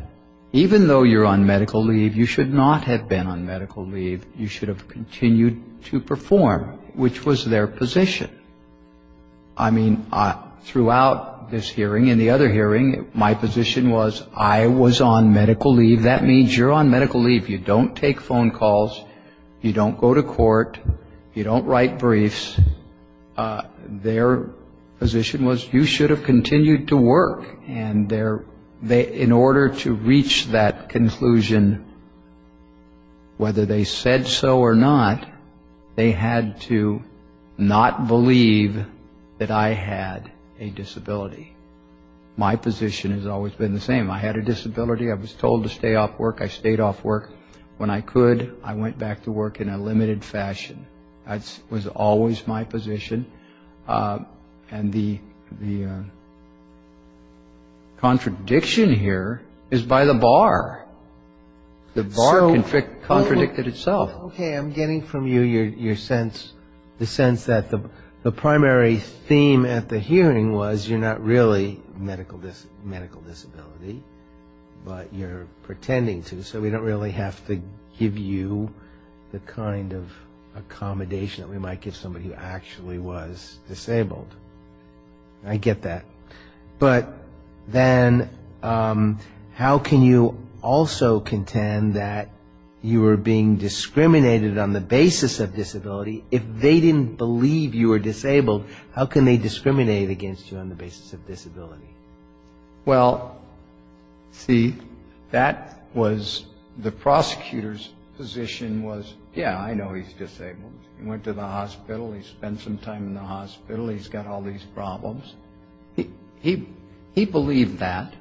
even though you're on medical leave, you should not have been on medical leave. You should have continued to perform, which was their position. I mean, throughout this hearing and the other hearing, my position was I was on medical leave. That means you're on medical leave. You don't take phone calls. You don't go to court. You don't write briefs. Their position was you should have continued to work. And in order to reach that conclusion, whether they said so or not, they had to not believe that I had a disability. My position has always been the same. I had a disability. I was told to stay off work. I stayed off work. When I could, I went back to work in a limited fashion. That was always my position. And the contradiction here is by the bar. The bar contradicted itself. Okay, I'm getting from you your sense, the sense that the primary theme at the hearing was you're not really medical disability, but you're pretending to, so we don't really have to give you the kind of accommodation that we might give somebody who actually was disabled. I get that. But then how can you also contend that you were being discriminated on the basis of disability if they didn't believe you were disabled? How can they discriminate against you on the basis of disability? Well, see, that was the prosecutor's position was, yeah, I know he's disabled. He went to the hospital. He spent some time in the hospital. He's got all these problems. He believed that.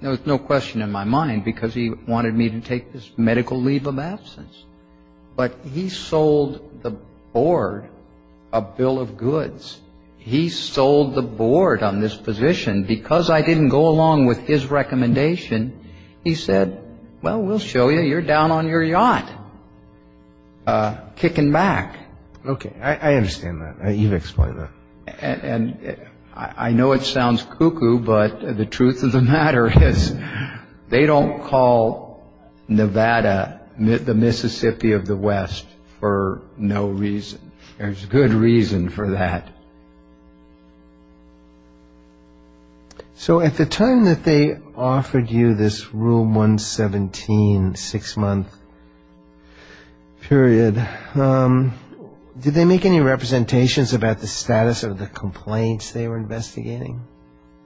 There was no question in my mind because he wanted me to take this medical leave of absence. But he sold the board a bill of goods. He sold the board on this position because I didn't go along with his recommendation. He said, well, we'll show you. You're down on your yacht kicking back. Okay, I understand that. You've explained that. And I know it sounds cuckoo, but the truth of the matter is they don't call Nevada the Mississippi of the West for no reason. There's good reason for that. So at the time that they offered you this Rule 117 six-month period, did they make any representations about the status of the complaints they were investigating?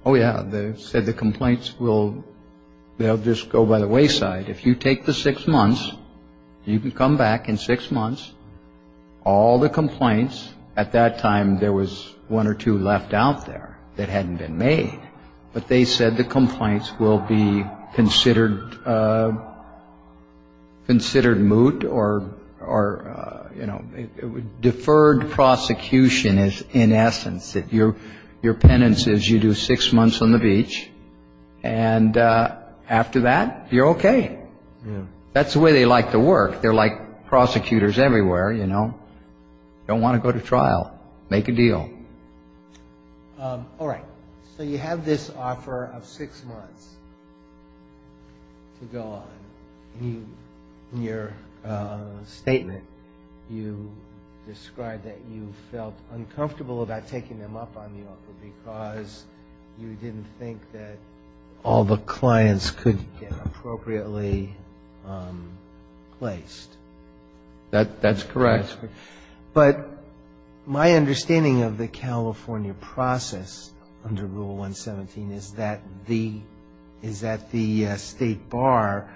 Oh, yeah. They said the complaints will just go by the wayside. If you take the six months, you can come back in six months. All the complaints, at that time there was one or two left out there that hadn't been made. But they said the complaints will be considered moot or deferred prosecution in essence. Your penance is you do six months on the beach, and after that, you're okay. That's the way they like to work. They're like prosecutors everywhere, you know. Don't want to go to trial. Make a deal. All right. So you have this offer of six months to go on. In your statement, you described that you felt uncomfortable about taking them up on the offer because you didn't think that all the clients could get appropriately placed. That's correct. But my understanding of the California process under Rule 117 is that the State Bar,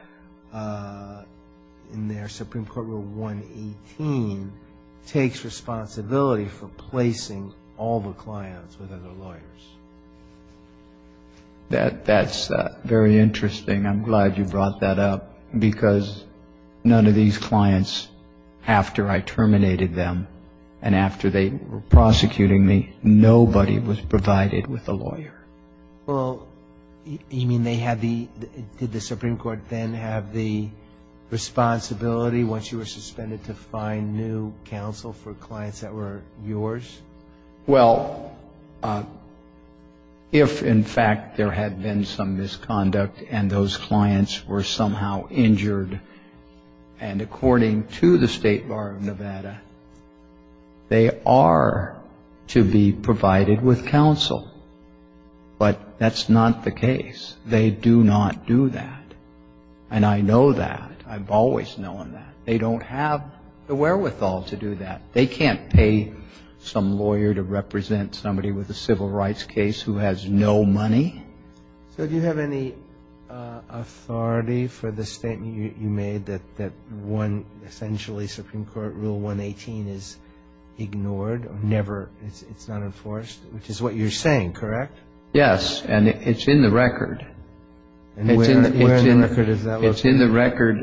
in their Supreme Court Rule 118, takes responsibility for placing all the clients with other lawyers. That's very interesting. I'm glad you brought that up because none of these clients, after I terminated them and after they were prosecuting me, nobody was provided with a lawyer. Well, you mean they had the – did the Supreme Court then have the responsibility, once you were suspended, to find new counsel for clients that were yours? Well, if, in fact, there had been some misconduct and those clients were somehow injured, and according to the State Bar of Nevada, they are to be provided with counsel. But that's not the case. They do not do that. And I know that. I've always known that. They don't have the wherewithal to do that. They can't pay some lawyer to represent somebody with a civil rights case who has no money. So do you have any authority for the statement you made that one, essentially, Supreme Court Rule 118 is ignored, never – it's not enforced, which is what you're saying, correct? Yes, and it's in the record. Where in the record does that look like? Well, it's in the record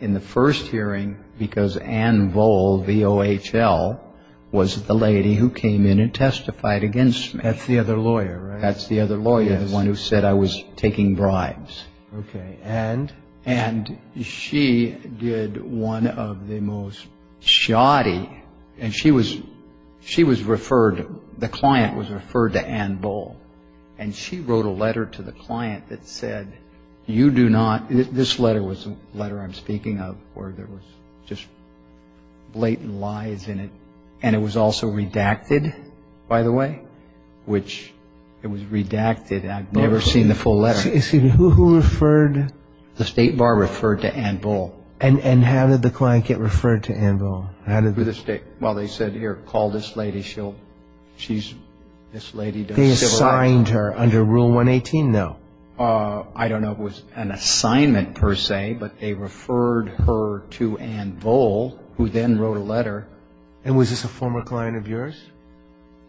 in the first hearing because Ann Vohl, V-O-H-L, was the lady who came in and testified against me. That's the other lawyer, right? That's the other lawyer, the one who said I was taking bribes. Okay, and? And she did one of the most shoddy – and she was referred – the client was referred to Ann Vohl. And she wrote a letter to the client that said, you do not – this letter was the letter I'm speaking of, where there was just blatant lies in it, and it was also redacted, by the way, which it was redacted and I've never seen the full letter. Who referred? The State Bar referred to Ann Vohl. And how did the client get referred to Ann Vohl? Well, they said, here, call this lady. They assigned her under Rule 118, though? I don't know if it was an assignment per se, but they referred her to Ann Vohl, who then wrote a letter. And was this a former client of yours?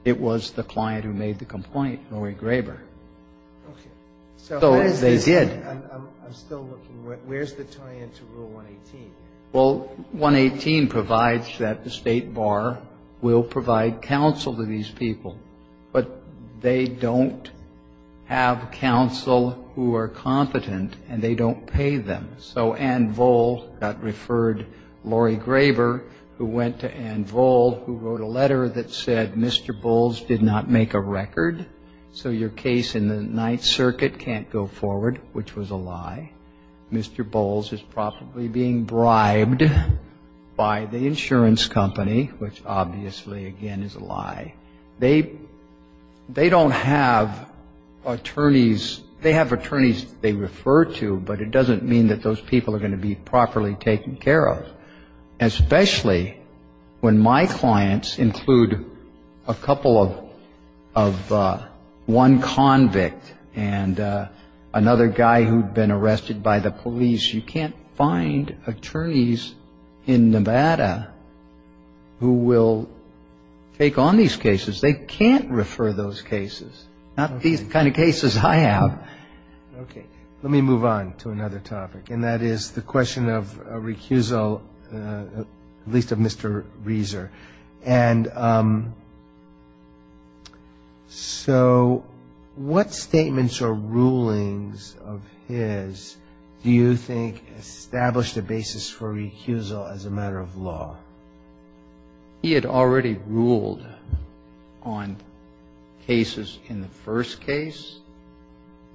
It was the client who made the complaint, Roy Graber. So they did. I'm still looking. Where's the tie-in to Rule 118? Well, 118 provides that the State Bar will provide counsel to these people, but they don't have counsel who are competent, and they don't pay them. So Ann Vohl got referred, Roy Graber, who went to Ann Vohl, who wrote a letter that said, Mr. Bowles did not make a record, so your case in the Ninth Circuit can't go forward, which was a lie. Mr. Bowles is probably being bribed by the insurance company, which obviously, again, is a lie. They don't have attorneys. They have attorneys they refer to, but it doesn't mean that those people are going to be properly taken care of, especially when my clients include a couple of one convict and another guy who'd been arrested by the police. You can't find attorneys in Nevada who will take on these cases. They can't refer those cases, not the kind of cases I have. Okay, let me move on to another topic, and that is the question of recusal, at least of Mr. Rieser. And so what statements or rulings of his do you think established a basis for recusal as a matter of law? He had already ruled on cases in the first case,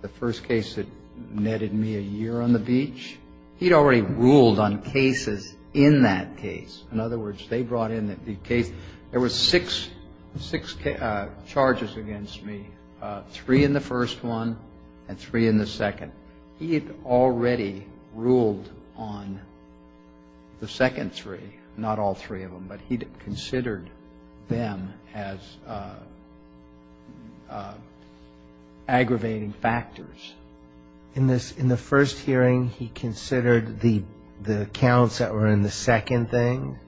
the first case that netted me a year on the beach. He'd already ruled on cases in that case. In other words, they brought in the case. There were six charges against me, three in the first one and three in the second. He had already ruled on the second three, not all three of them, but he considered them as aggravating factors. In the first hearing, he considered the counts that were in the second thing,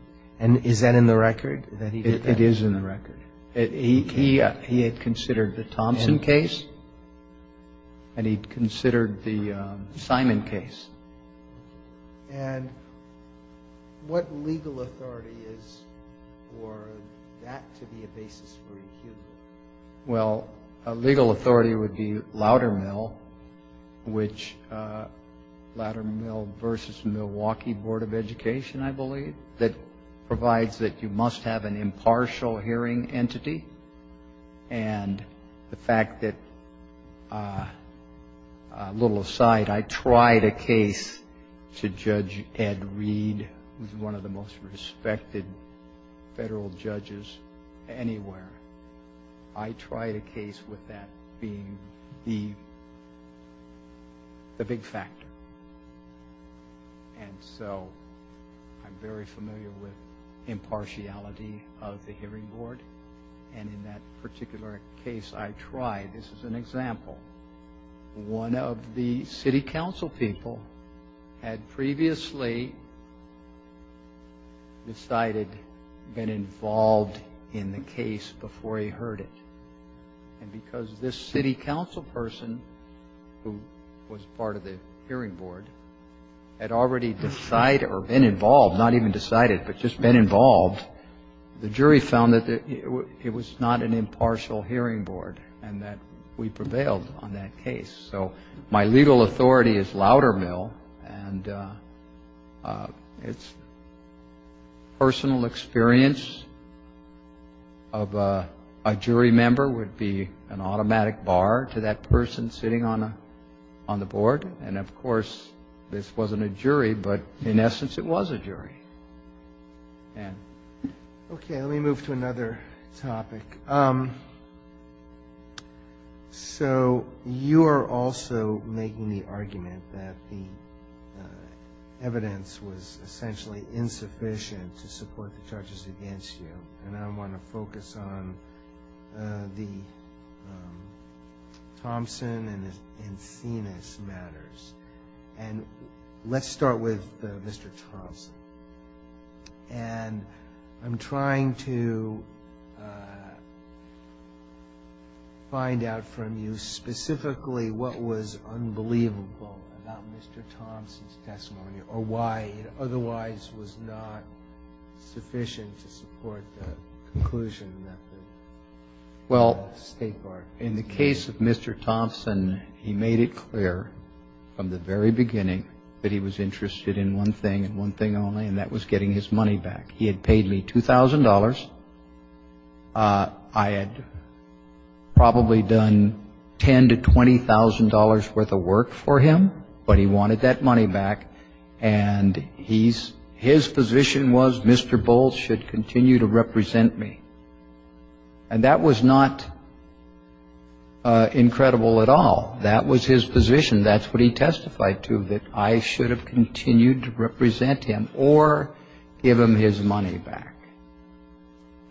and is that in the record? It is in the record. He had considered the Thompson case, and he'd considered the Simon case. And what legal authority is for that to be a basis for recusal? Well, a legal authority would be Loudermill, which Loudermill versus Milwaukee Board of Education, I believe, that provides that you must have an impartial hearing entity. And the fact that, a little aside, I tried a case to Judge Ed Reed, who's one of the most respected federal judges anywhere. I tried a case with that being the big factor. And so I'm very familiar with impartiality of the hearing board, and in that particular case I tried. This is an example. One of the city council people had previously decided to get involved in the case before he heard it. And because this city council person, who was part of the hearing board, had already decided, or been involved, not even decided, but just been involved, the jury found that it was not an impartial hearing board, and that we prevailed on that case. So my legal authority is Loudermill, and its personal experience of a jury member would be an automatic bar to that person sitting on the board. And, of course, this wasn't a jury, but in essence it was a jury. Okay, let me move to another topic. So you are also making the argument that the evidence was essentially insufficient to support the charges against you, and I want to focus on the Thompson and Phoenix matters. And let's start with Mr. Thompson. And I'm trying to find out from you specifically what was unbelievable about Mr. Thompson's testimony, or why it otherwise was not sufficient to support the conclusion that the state barged. Well, in the case of Mr. Thompson, he made it clear from the very beginning that he was interested in one thing and one thing only, and that was getting his money back. He had paid me $2,000. I had probably done $10,000 to $20,000 worth of work for him, but he wanted that money back. And his position was Mr. Bowles should continue to represent me. And that was not incredible at all. That was his position. That's what he testified to, that I should have continued to represent him or give him his money back.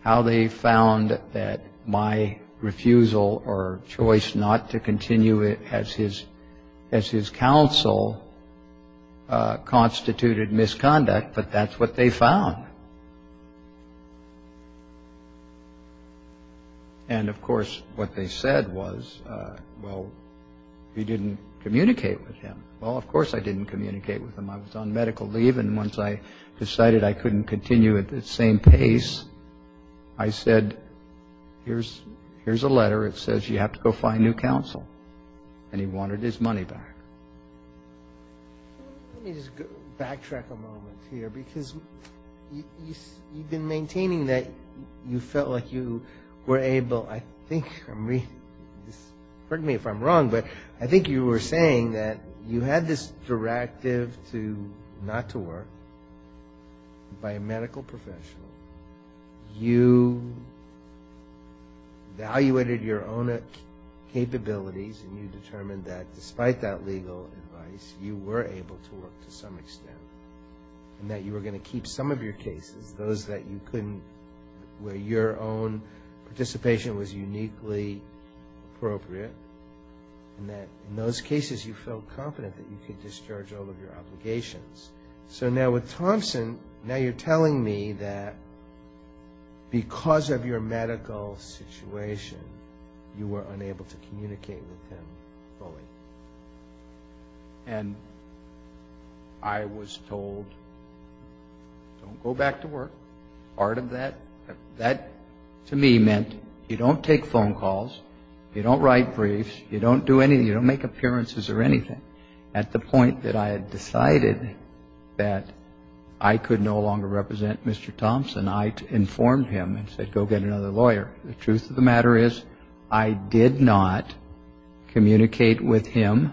How they found that my refusal or choice not to continue as his counsel constituted misconduct, but that's what they found. And, of course, what they said was, well, you didn't communicate with him. Well, of course I didn't communicate with him. I was on medical leave, and once I decided I couldn't continue at the same pace, I said, here's a letter that says you have to go find new counsel. And he wanted his money back. Let me just backtrack a moment here, because you've been maintaining that you felt like you were able, I think, pardon me if I'm wrong, but I think you were saying that you had this directive not to work by a medical professional. You evaluated your own capabilities, and you determined that despite that legal advice, you were able to work to some extent, and that you were going to keep some of your cases, those where your own participation was uniquely appropriate, and that in those cases you felt confident that you could discharge all of your obligations. So now with Thompson, now you're telling me that because of your medical situation, you were unable to communicate with him fully. And I was told, go back to work. Part of that, that to me meant you don't take phone calls, you don't write briefs, you don't do anything, you don't make appearances or anything. At the point that I had decided that I could no longer represent Mr. Thompson, I informed him and said go get another lawyer. The truth of the matter is I did not communicate with him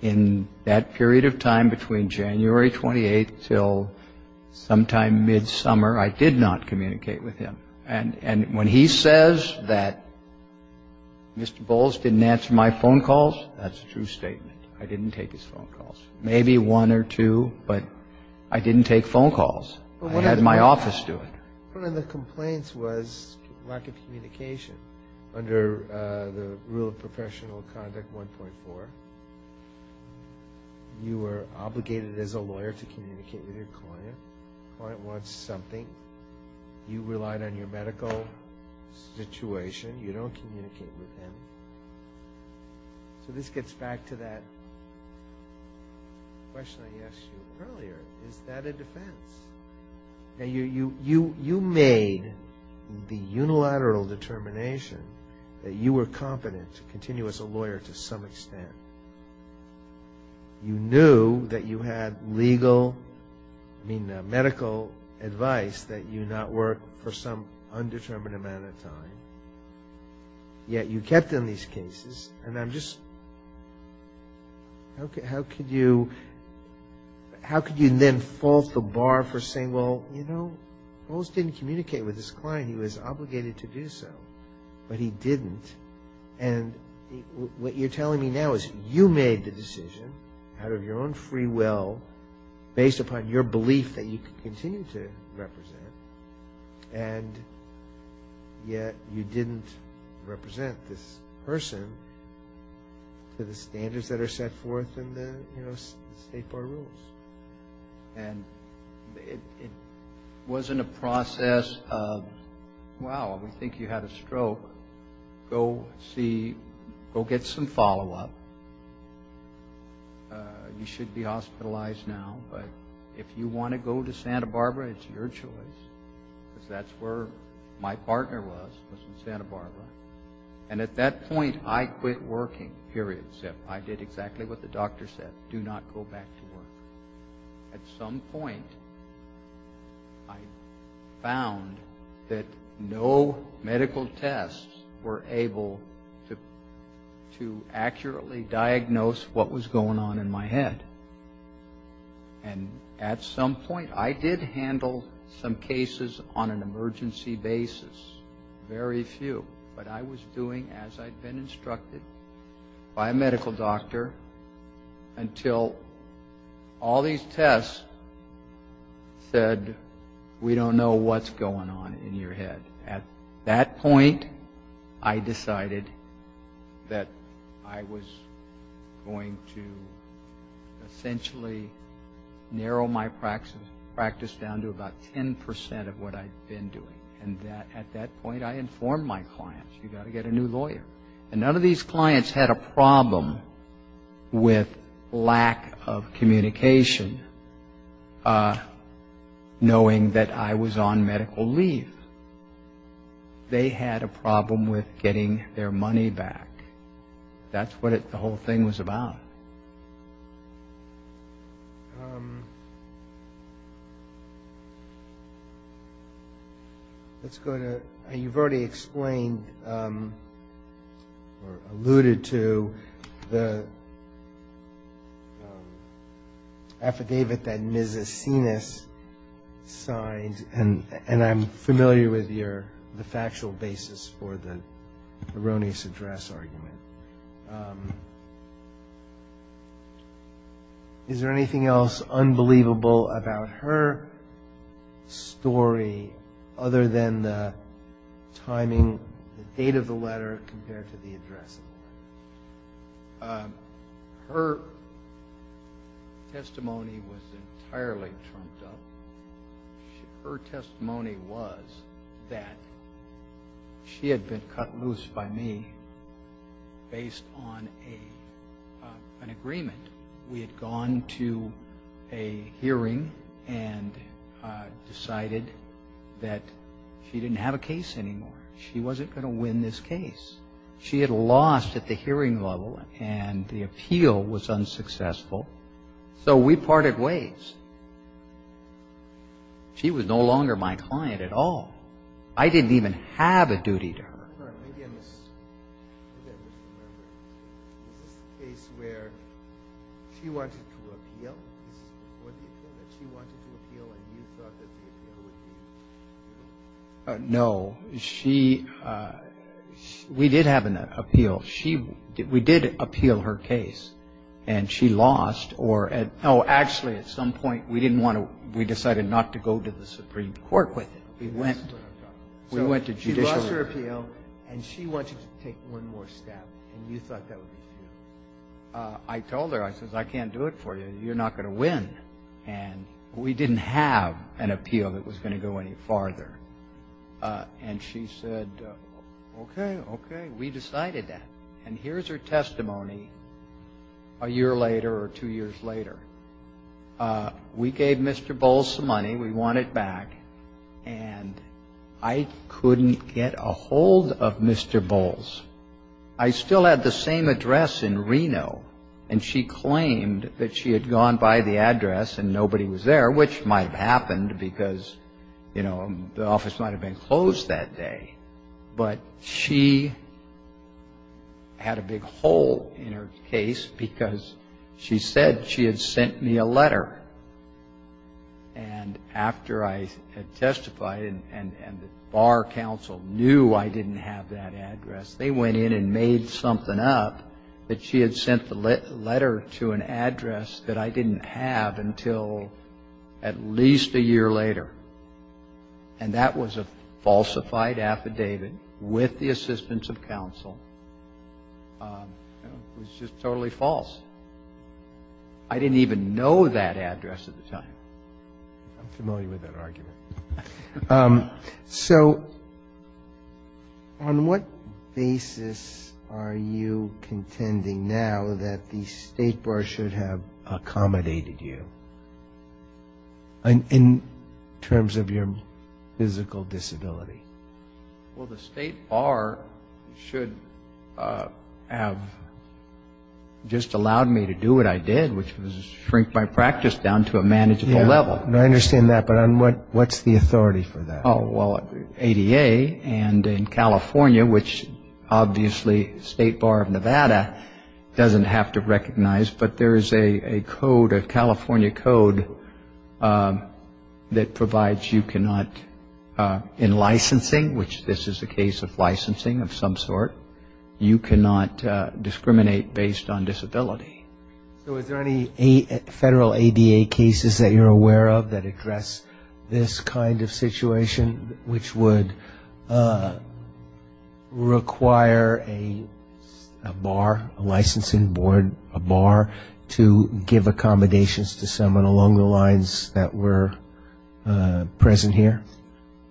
in that period of time between January 28th until sometime mid-summer, I did not communicate with him. And when he says that Mr. Bowles didn't answer my phone calls, that's a true statement. I didn't take his phone calls. Maybe one or two, but I didn't take phone calls. I had my office doing it. One of the complaints was lack of communication under the rule of professional conduct 1.4. You were obligated as a lawyer to communicate with your client. The client wants something. You relied on your medical situation. You don't communicate with them. So this gets back to that question I asked you earlier. Is that a defense? You made the unilateral determination that you were competent to continue as a lawyer to some extent. You knew that you had legal, I mean medical advice that you not work for some undetermined amount of time. Yet you kept on these cases. And I'm just, how could you then fault the bar for saying, well, you know, Bowles didn't communicate with his client. He was obligated to do so. But he didn't. And what you're telling me now is you made the decision out of your own free will, based upon your belief that you could continue to represent, and yet you didn't represent this person to the standards that are set forth in the State Bar Rules. And it wasn't a process of, wow, we think you had a stroke. Go get some follow-up. You should be hospitalized now. But if you want to go to Santa Barbara, it's your choice. That's where my partner was, was in Santa Barbara. And at that point, I quit working, period. I did exactly what the doctor said. Do not go back to work. At some point, I found that no medical tests were able to accurately diagnose what was going on in my head. And at some point, I did handle some cases on an emergency basis, very few. But I was doing as I'd been instructed by a medical doctor until all these tests said, we don't know what's going on in your head. At that point, I decided that I was going to essentially narrow my practice down to about 10% of what I'd been doing. And at that point, I informed my clients, you've got to get a new lawyer. And none of these clients had a problem with lack of communication knowing that I was on medical leave. They had a problem with getting their money back. That's what the whole thing was about. Let's go to – you've already explained or alluded to the affidavit that Ms. Acenas signed. And I'm familiar with the factual basis for the erroneous address argument. Is there anything else unbelievable about her story other than the timing, the date of the letter compared to the address? Her testimony was entirely trumped up. Her testimony was that she had been cut loose by me based on an agreement. We had gone to a hearing and decided that she didn't have a case anymore. She wasn't going to win this case. She had lost at the hearing level and the appeal was unsuccessful. So, we parted ways. She was no longer my client at all. I didn't even have a duty to her. You mentioned a case where she wanted to appeal and you thought that the appeal would be successful. No. We did have an appeal. We did appeal her case and she lost. Actually, at some point, we decided not to go to the Supreme Court with it. We went to judicial review. She lost her appeal and she wanted to take one more step and you thought that would be it. I told her, I said, I can't do it for you. You're not going to win. And we didn't have an appeal that was going to go any farther. And she said, okay, okay, we decided that. And here's her testimony a year later or two years later. We gave Mr. Bowles some money. We want it back. And I couldn't get a hold of Mr. Bowles. I still had the same address in Reno and she claimed that she had gone by the address and nobody was there, which might have happened because, you know, the office might have been closed that day. But she had a big hole in her case because she said she had sent me a letter. And after I had testified and the Bar Council knew I didn't have that address, they went in and made something up that she had sent the letter to an address that I didn't have until at least a year later. And that was a falsified affidavit with the assistance of counsel. It was just totally false. I didn't even know that address at the time. I'm familiar with that argument. So on what basis are you contending now that the State Bar should have accommodated you? In terms of your physical disability. Well, the State Bar should have just allowed me to do what I did, which was shrink my practice down to a manageable level. I understand that, but what's the authority for that? Oh, well, ADA and in California, which obviously State Bar of Nevada doesn't have to recognize, but there is a code, a California code, that provides you cannot, in licensing, which this is a case of licensing of some sort, you cannot discriminate based on disability. So is there any federal ADA cases that you're aware of that address this kind of situation, which would require a bar, a licensing board, a bar, to give accommodations to someone along the lines that were present here?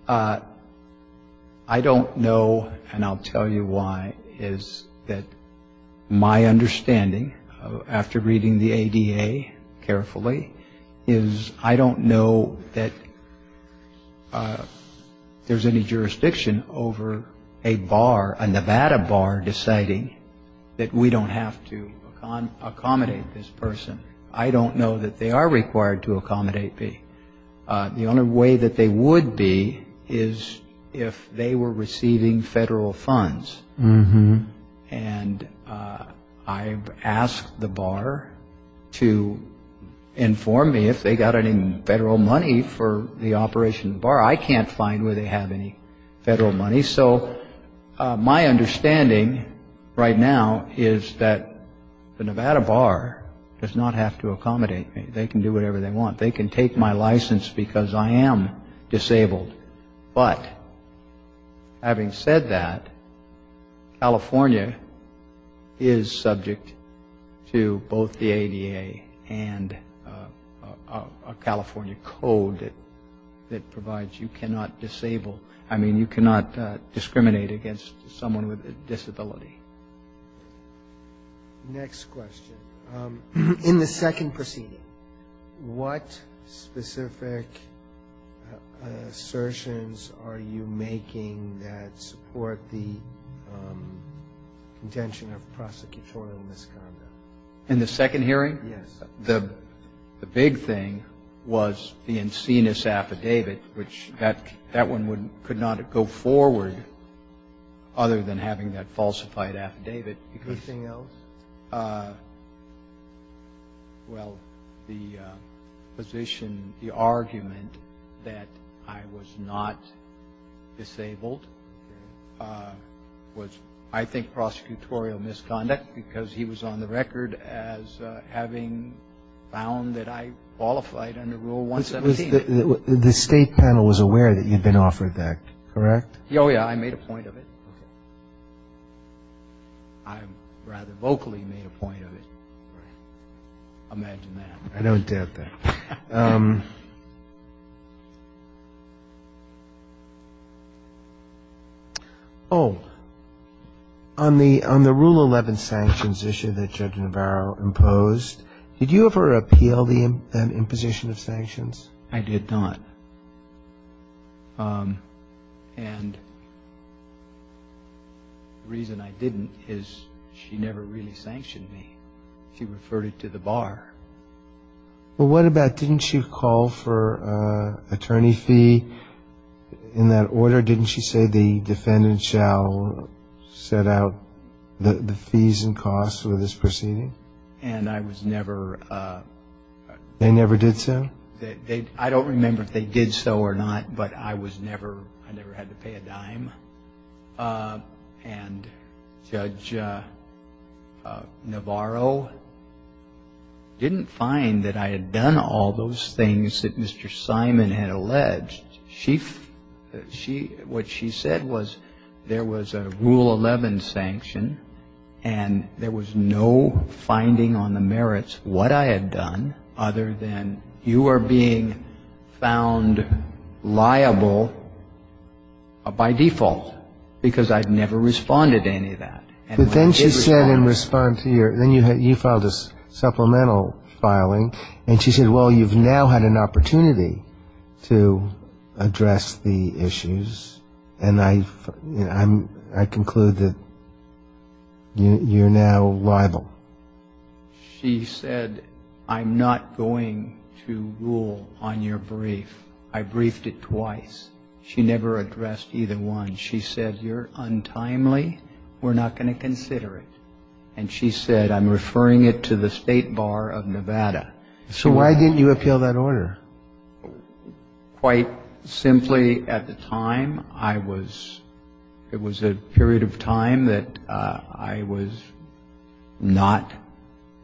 I don't know, and I'll tell you why, is that my understanding, after reading the ADA carefully, is I don't know that there's any jurisdiction over a bar, a Nevada bar, deciding that we don't have to accommodate this person. I don't know that they are required to accommodate me. The only way that they would be is if they were receiving federal funds. And I've asked the bar to inform me if they got any federal money for the operation of the bar. I can't find where they have any federal money. So my understanding right now is that the Nevada bar does not have to accommodate me. They can do whatever they want. They can take my license because I am disabled. But having said that, California is subject to both the ADA and a California code that provides you cannot disable, I mean you cannot discriminate against someone with a disability. Next question. In the second proceeding, what specific assertions are you making that support the intention of prosecutorial misconduct? In the second hearing? Yes. The big thing was the Encina's affidavit, which that one could not go forward other than having that falsified affidavit. Anything else? Well, the position, the argument that I was not disabled was I think prosecutorial misconduct because he was on the record as having found that I qualified under Rule 170. The state panel was aware that you'd been offered that, correct? Oh yeah, I made a point of it. I rather vocally made a point of it. Imagine that. I don't doubt that. Oh, on the Rule 11 sanctions issue that Judge Navarro imposed, did you ever appeal the imposition of sanctions? I did not. And the reason I didn't is she never really sanctioned me. She referred it to the bar. Well, what about didn't she call for an attorney fee in that order? Didn't she say the defendant shall set out the fees and costs for this proceeding? And I was never... They never did so? I don't remember if they did so or not, but I never had to pay a dime. And Judge Navarro didn't find that I had done all those things that Mr. Simon had alleged. What she said was there was a Rule 11 sanction and there was no finding on the merits what I had done other than you are being found liable by default because I'd never responded to any of that. But then she said in response to your... Then you filed a supplemental filing and she said, well, you've now had an opportunity to address the issues and I conclude that you're now liable. She said, I'm not going to rule on your brief. I briefed it twice. She never addressed either one. She said, you're untimely. We're not going to consider it. And she said, I'm referring it to the State Bar of Nevada. So why didn't you appeal that order? Quite simply, at the time, I was... It was a period of time that I was not...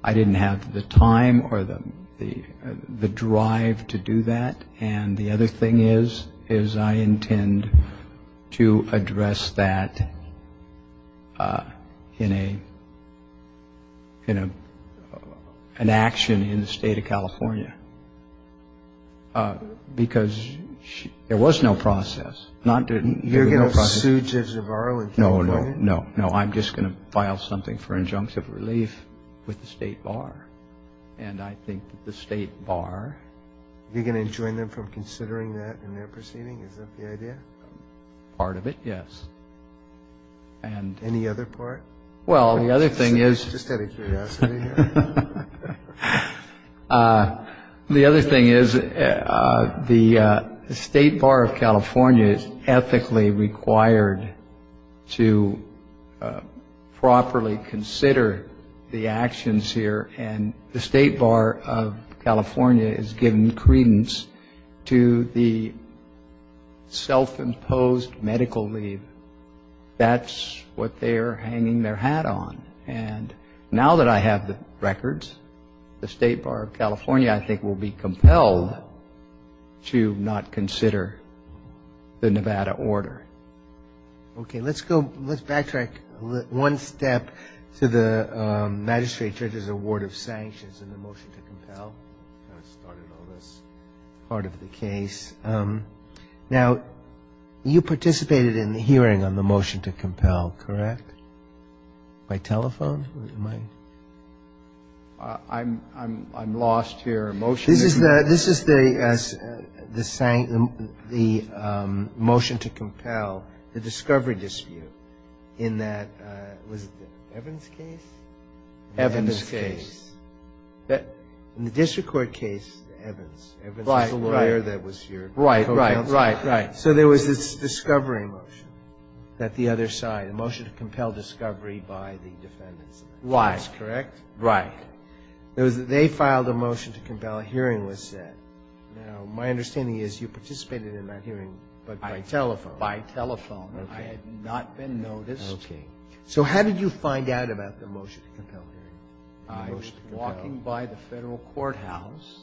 I didn't have the time or the drive to do that. And the other thing is I intend to address that in an action in the State of California because there was no process. You're going to sue Judge Navarro in California? No, no, no. I'm just going to file something for injunctive relief with the State Bar. And I think that the State Bar... You're not going to enjoin them from considering that in their proceeding? Is that the idea? Part of it, yes. And any other part? Well, the other thing is... I just had a curiosity here. The other thing is the State Bar of California is ethically required to properly consider the actions here and the State Bar of California is given credence to the self-imposed medical leave. That's what they're hanging their hat on. And now that I have the records, the State Bar of California, I think, will be compelled to not consider the Nevada order. Okay, let's backtrack one step to the magistrate judge's award of sanctions and the motion to compel. That's part of the case. Now, you participated in the hearing on the motion to compel, correct? By telephone? I'm lost here. This is the motion to compel the discovery dispute in that... Evans case? Evans case. In the district court case, Evans. Right, right. So there was this discovery motion at the other side, a motion to compel discovery by the defendants. Wise, correct? Right. They filed a motion to compel a hearing with it. Now, my understanding is you participated in that hearing by telephone. By telephone. I had not been noticed. So how did you find out about the motion to compel hearing? I was walking by the federal courthouse,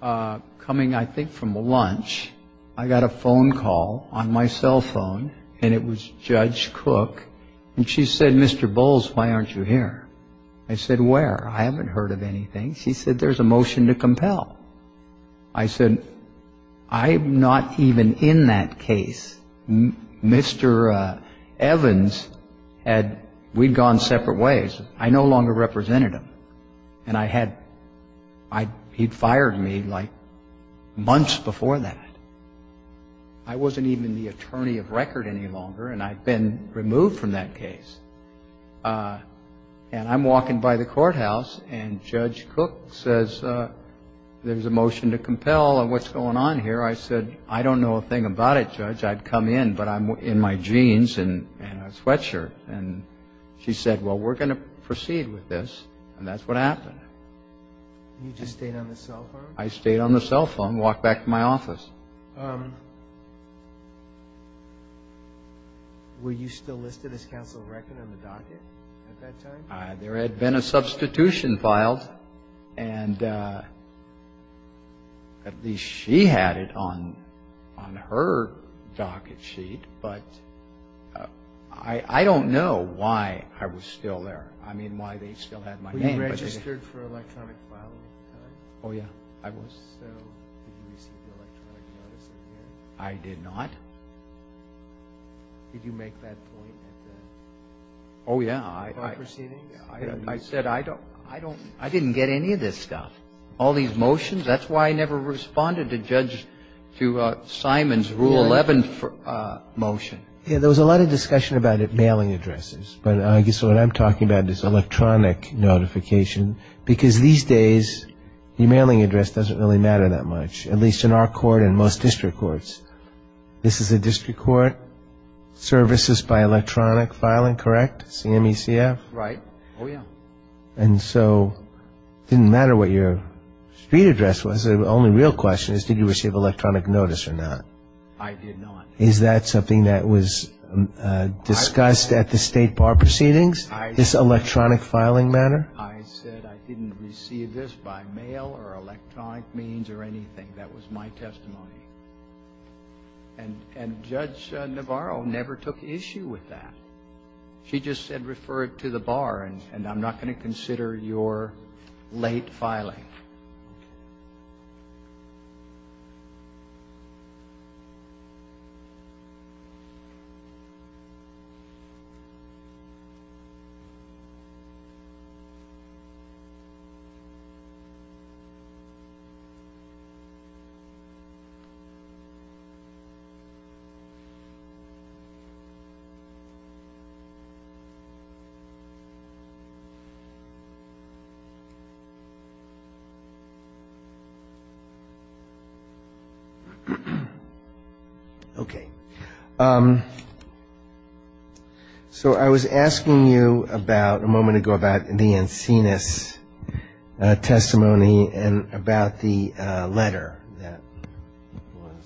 coming, I think, from lunch. I got a phone call on my cell phone and it was Judge Cook. And she said, Mr. Bowles, why aren't you here? I said, where? I haven't heard of anything. She said, there's a motion to compel. I said, I'm not even in that case. Mr. Evans had, we'd gone separate ways. I no longer represented him. And I had, he'd fired me like months before that. I wasn't even the attorney of record any longer and I'd been removed from that case. And I'm walking by the courthouse and Judge Cook says, there's a motion to compel. What's going on here? I said, I don't know a thing about it, Judge. I'd come in, but I'm in my jeans and a sweatshirt. And she said, well, we're going to proceed with this. And that's what happened. You just stayed on the cell phone? I stayed on the cell phone and walked back to my office. Were you still listed as counsel of record on the docket at that time? There had been a substitution filed. And at least she had it on her docket sheet. But I don't know why I was still there. I mean, why they still had my name. Were you registered for electronic filing? Oh, yeah, I was. I did not. Did you make that point? Oh, yeah. I said, I didn't get any of this stuff. All these motions? That's why I never responded to Simon's Rule 11 motion. Yeah, there was a lot of discussion about mailing addresses. So what I'm talking about is electronic notification. Because these days, your mailing address doesn't really matter that much, at least in our court and most district courts. This is a district court. Services by electronic filing, correct? CMECF? Right. Oh, yeah. And so it didn't matter what your street address was. The only real question is, did you receive electronic notice or not? I did not. Is that something that was discussed at the State Bar proceedings, this electronic filing matter? I said I didn't receive this by mail or electronic means or anything. That was my testimony. And Judge Navarro never took issue with that. She just said refer it to the Bar, and I'm not going to consider your late filing. Okay. So I was asking you about, a moment ago, about the Encinas testimony and about the letter. That was,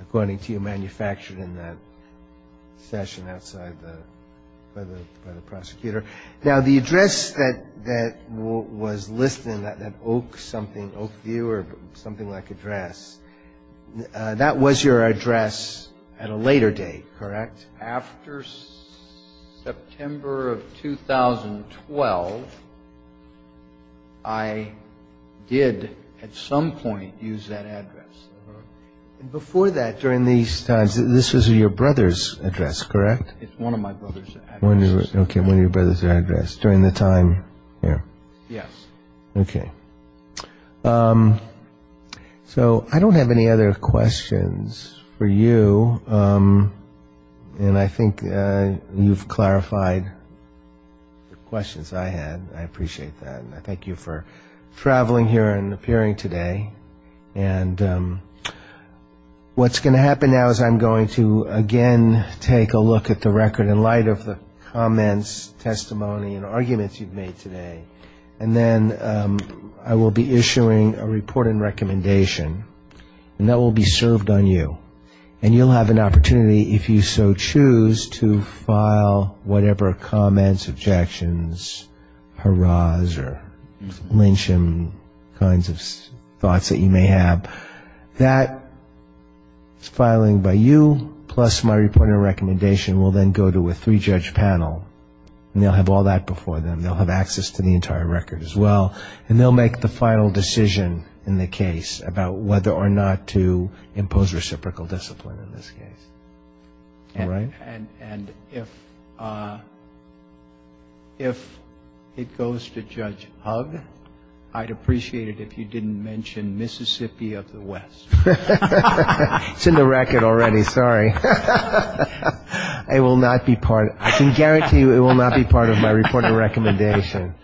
according to you, manufactured in that session outside by the prosecutor. Now, the address that was listed in that Oak something, Oak View or something like address, that was your address at a later date, correct? After September of 2012, I did, at some point, use that address. Before that, during these times, this is your brother's address, correct? It's one of my brother's addresses. Okay, one of your brother's addresses. During the time there. Yes. Okay. Okay. So I don't have any other questions for you, and I think you've clarified the questions I had. I appreciate that, and I thank you for traveling here and appearing today. And what's going to happen now is I'm going to, again, take a look at the record in light of the comments, testimony, and arguments you've made today, and then I will be issuing a report and recommendation, and that will be served on you. And you'll have an opportunity, if you so choose, to file whatever comments, objections, hurrahs, or lynching kinds of thoughts that you may have. So that is filing by you, plus my report and recommendation will then go to a three-judge panel, and they'll have all that before them. They'll have access to the entire record as well, and they'll make the final decision in the case about whether or not to impose reciprocal discipline in this case. All right? And if it goes to Judge Hugg, I'd appreciate it if you didn't mention Mississippi of the West. It's in the record already. Sorry. It will not be part of my report and recommendation.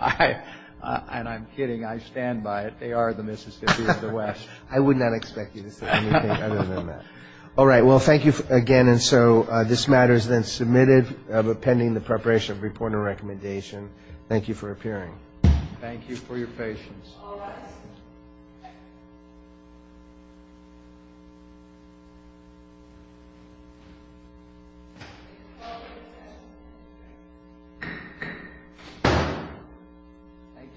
And I'm kidding. I stand by it. They are the Mississippi of the West. I would not expect you to say anything other than that. All right. Well, thank you again. And so this matter is then submitted pending the preparation of the report and recommendation. Thank you for appearing. Thank you for your patience. All right. Thank you.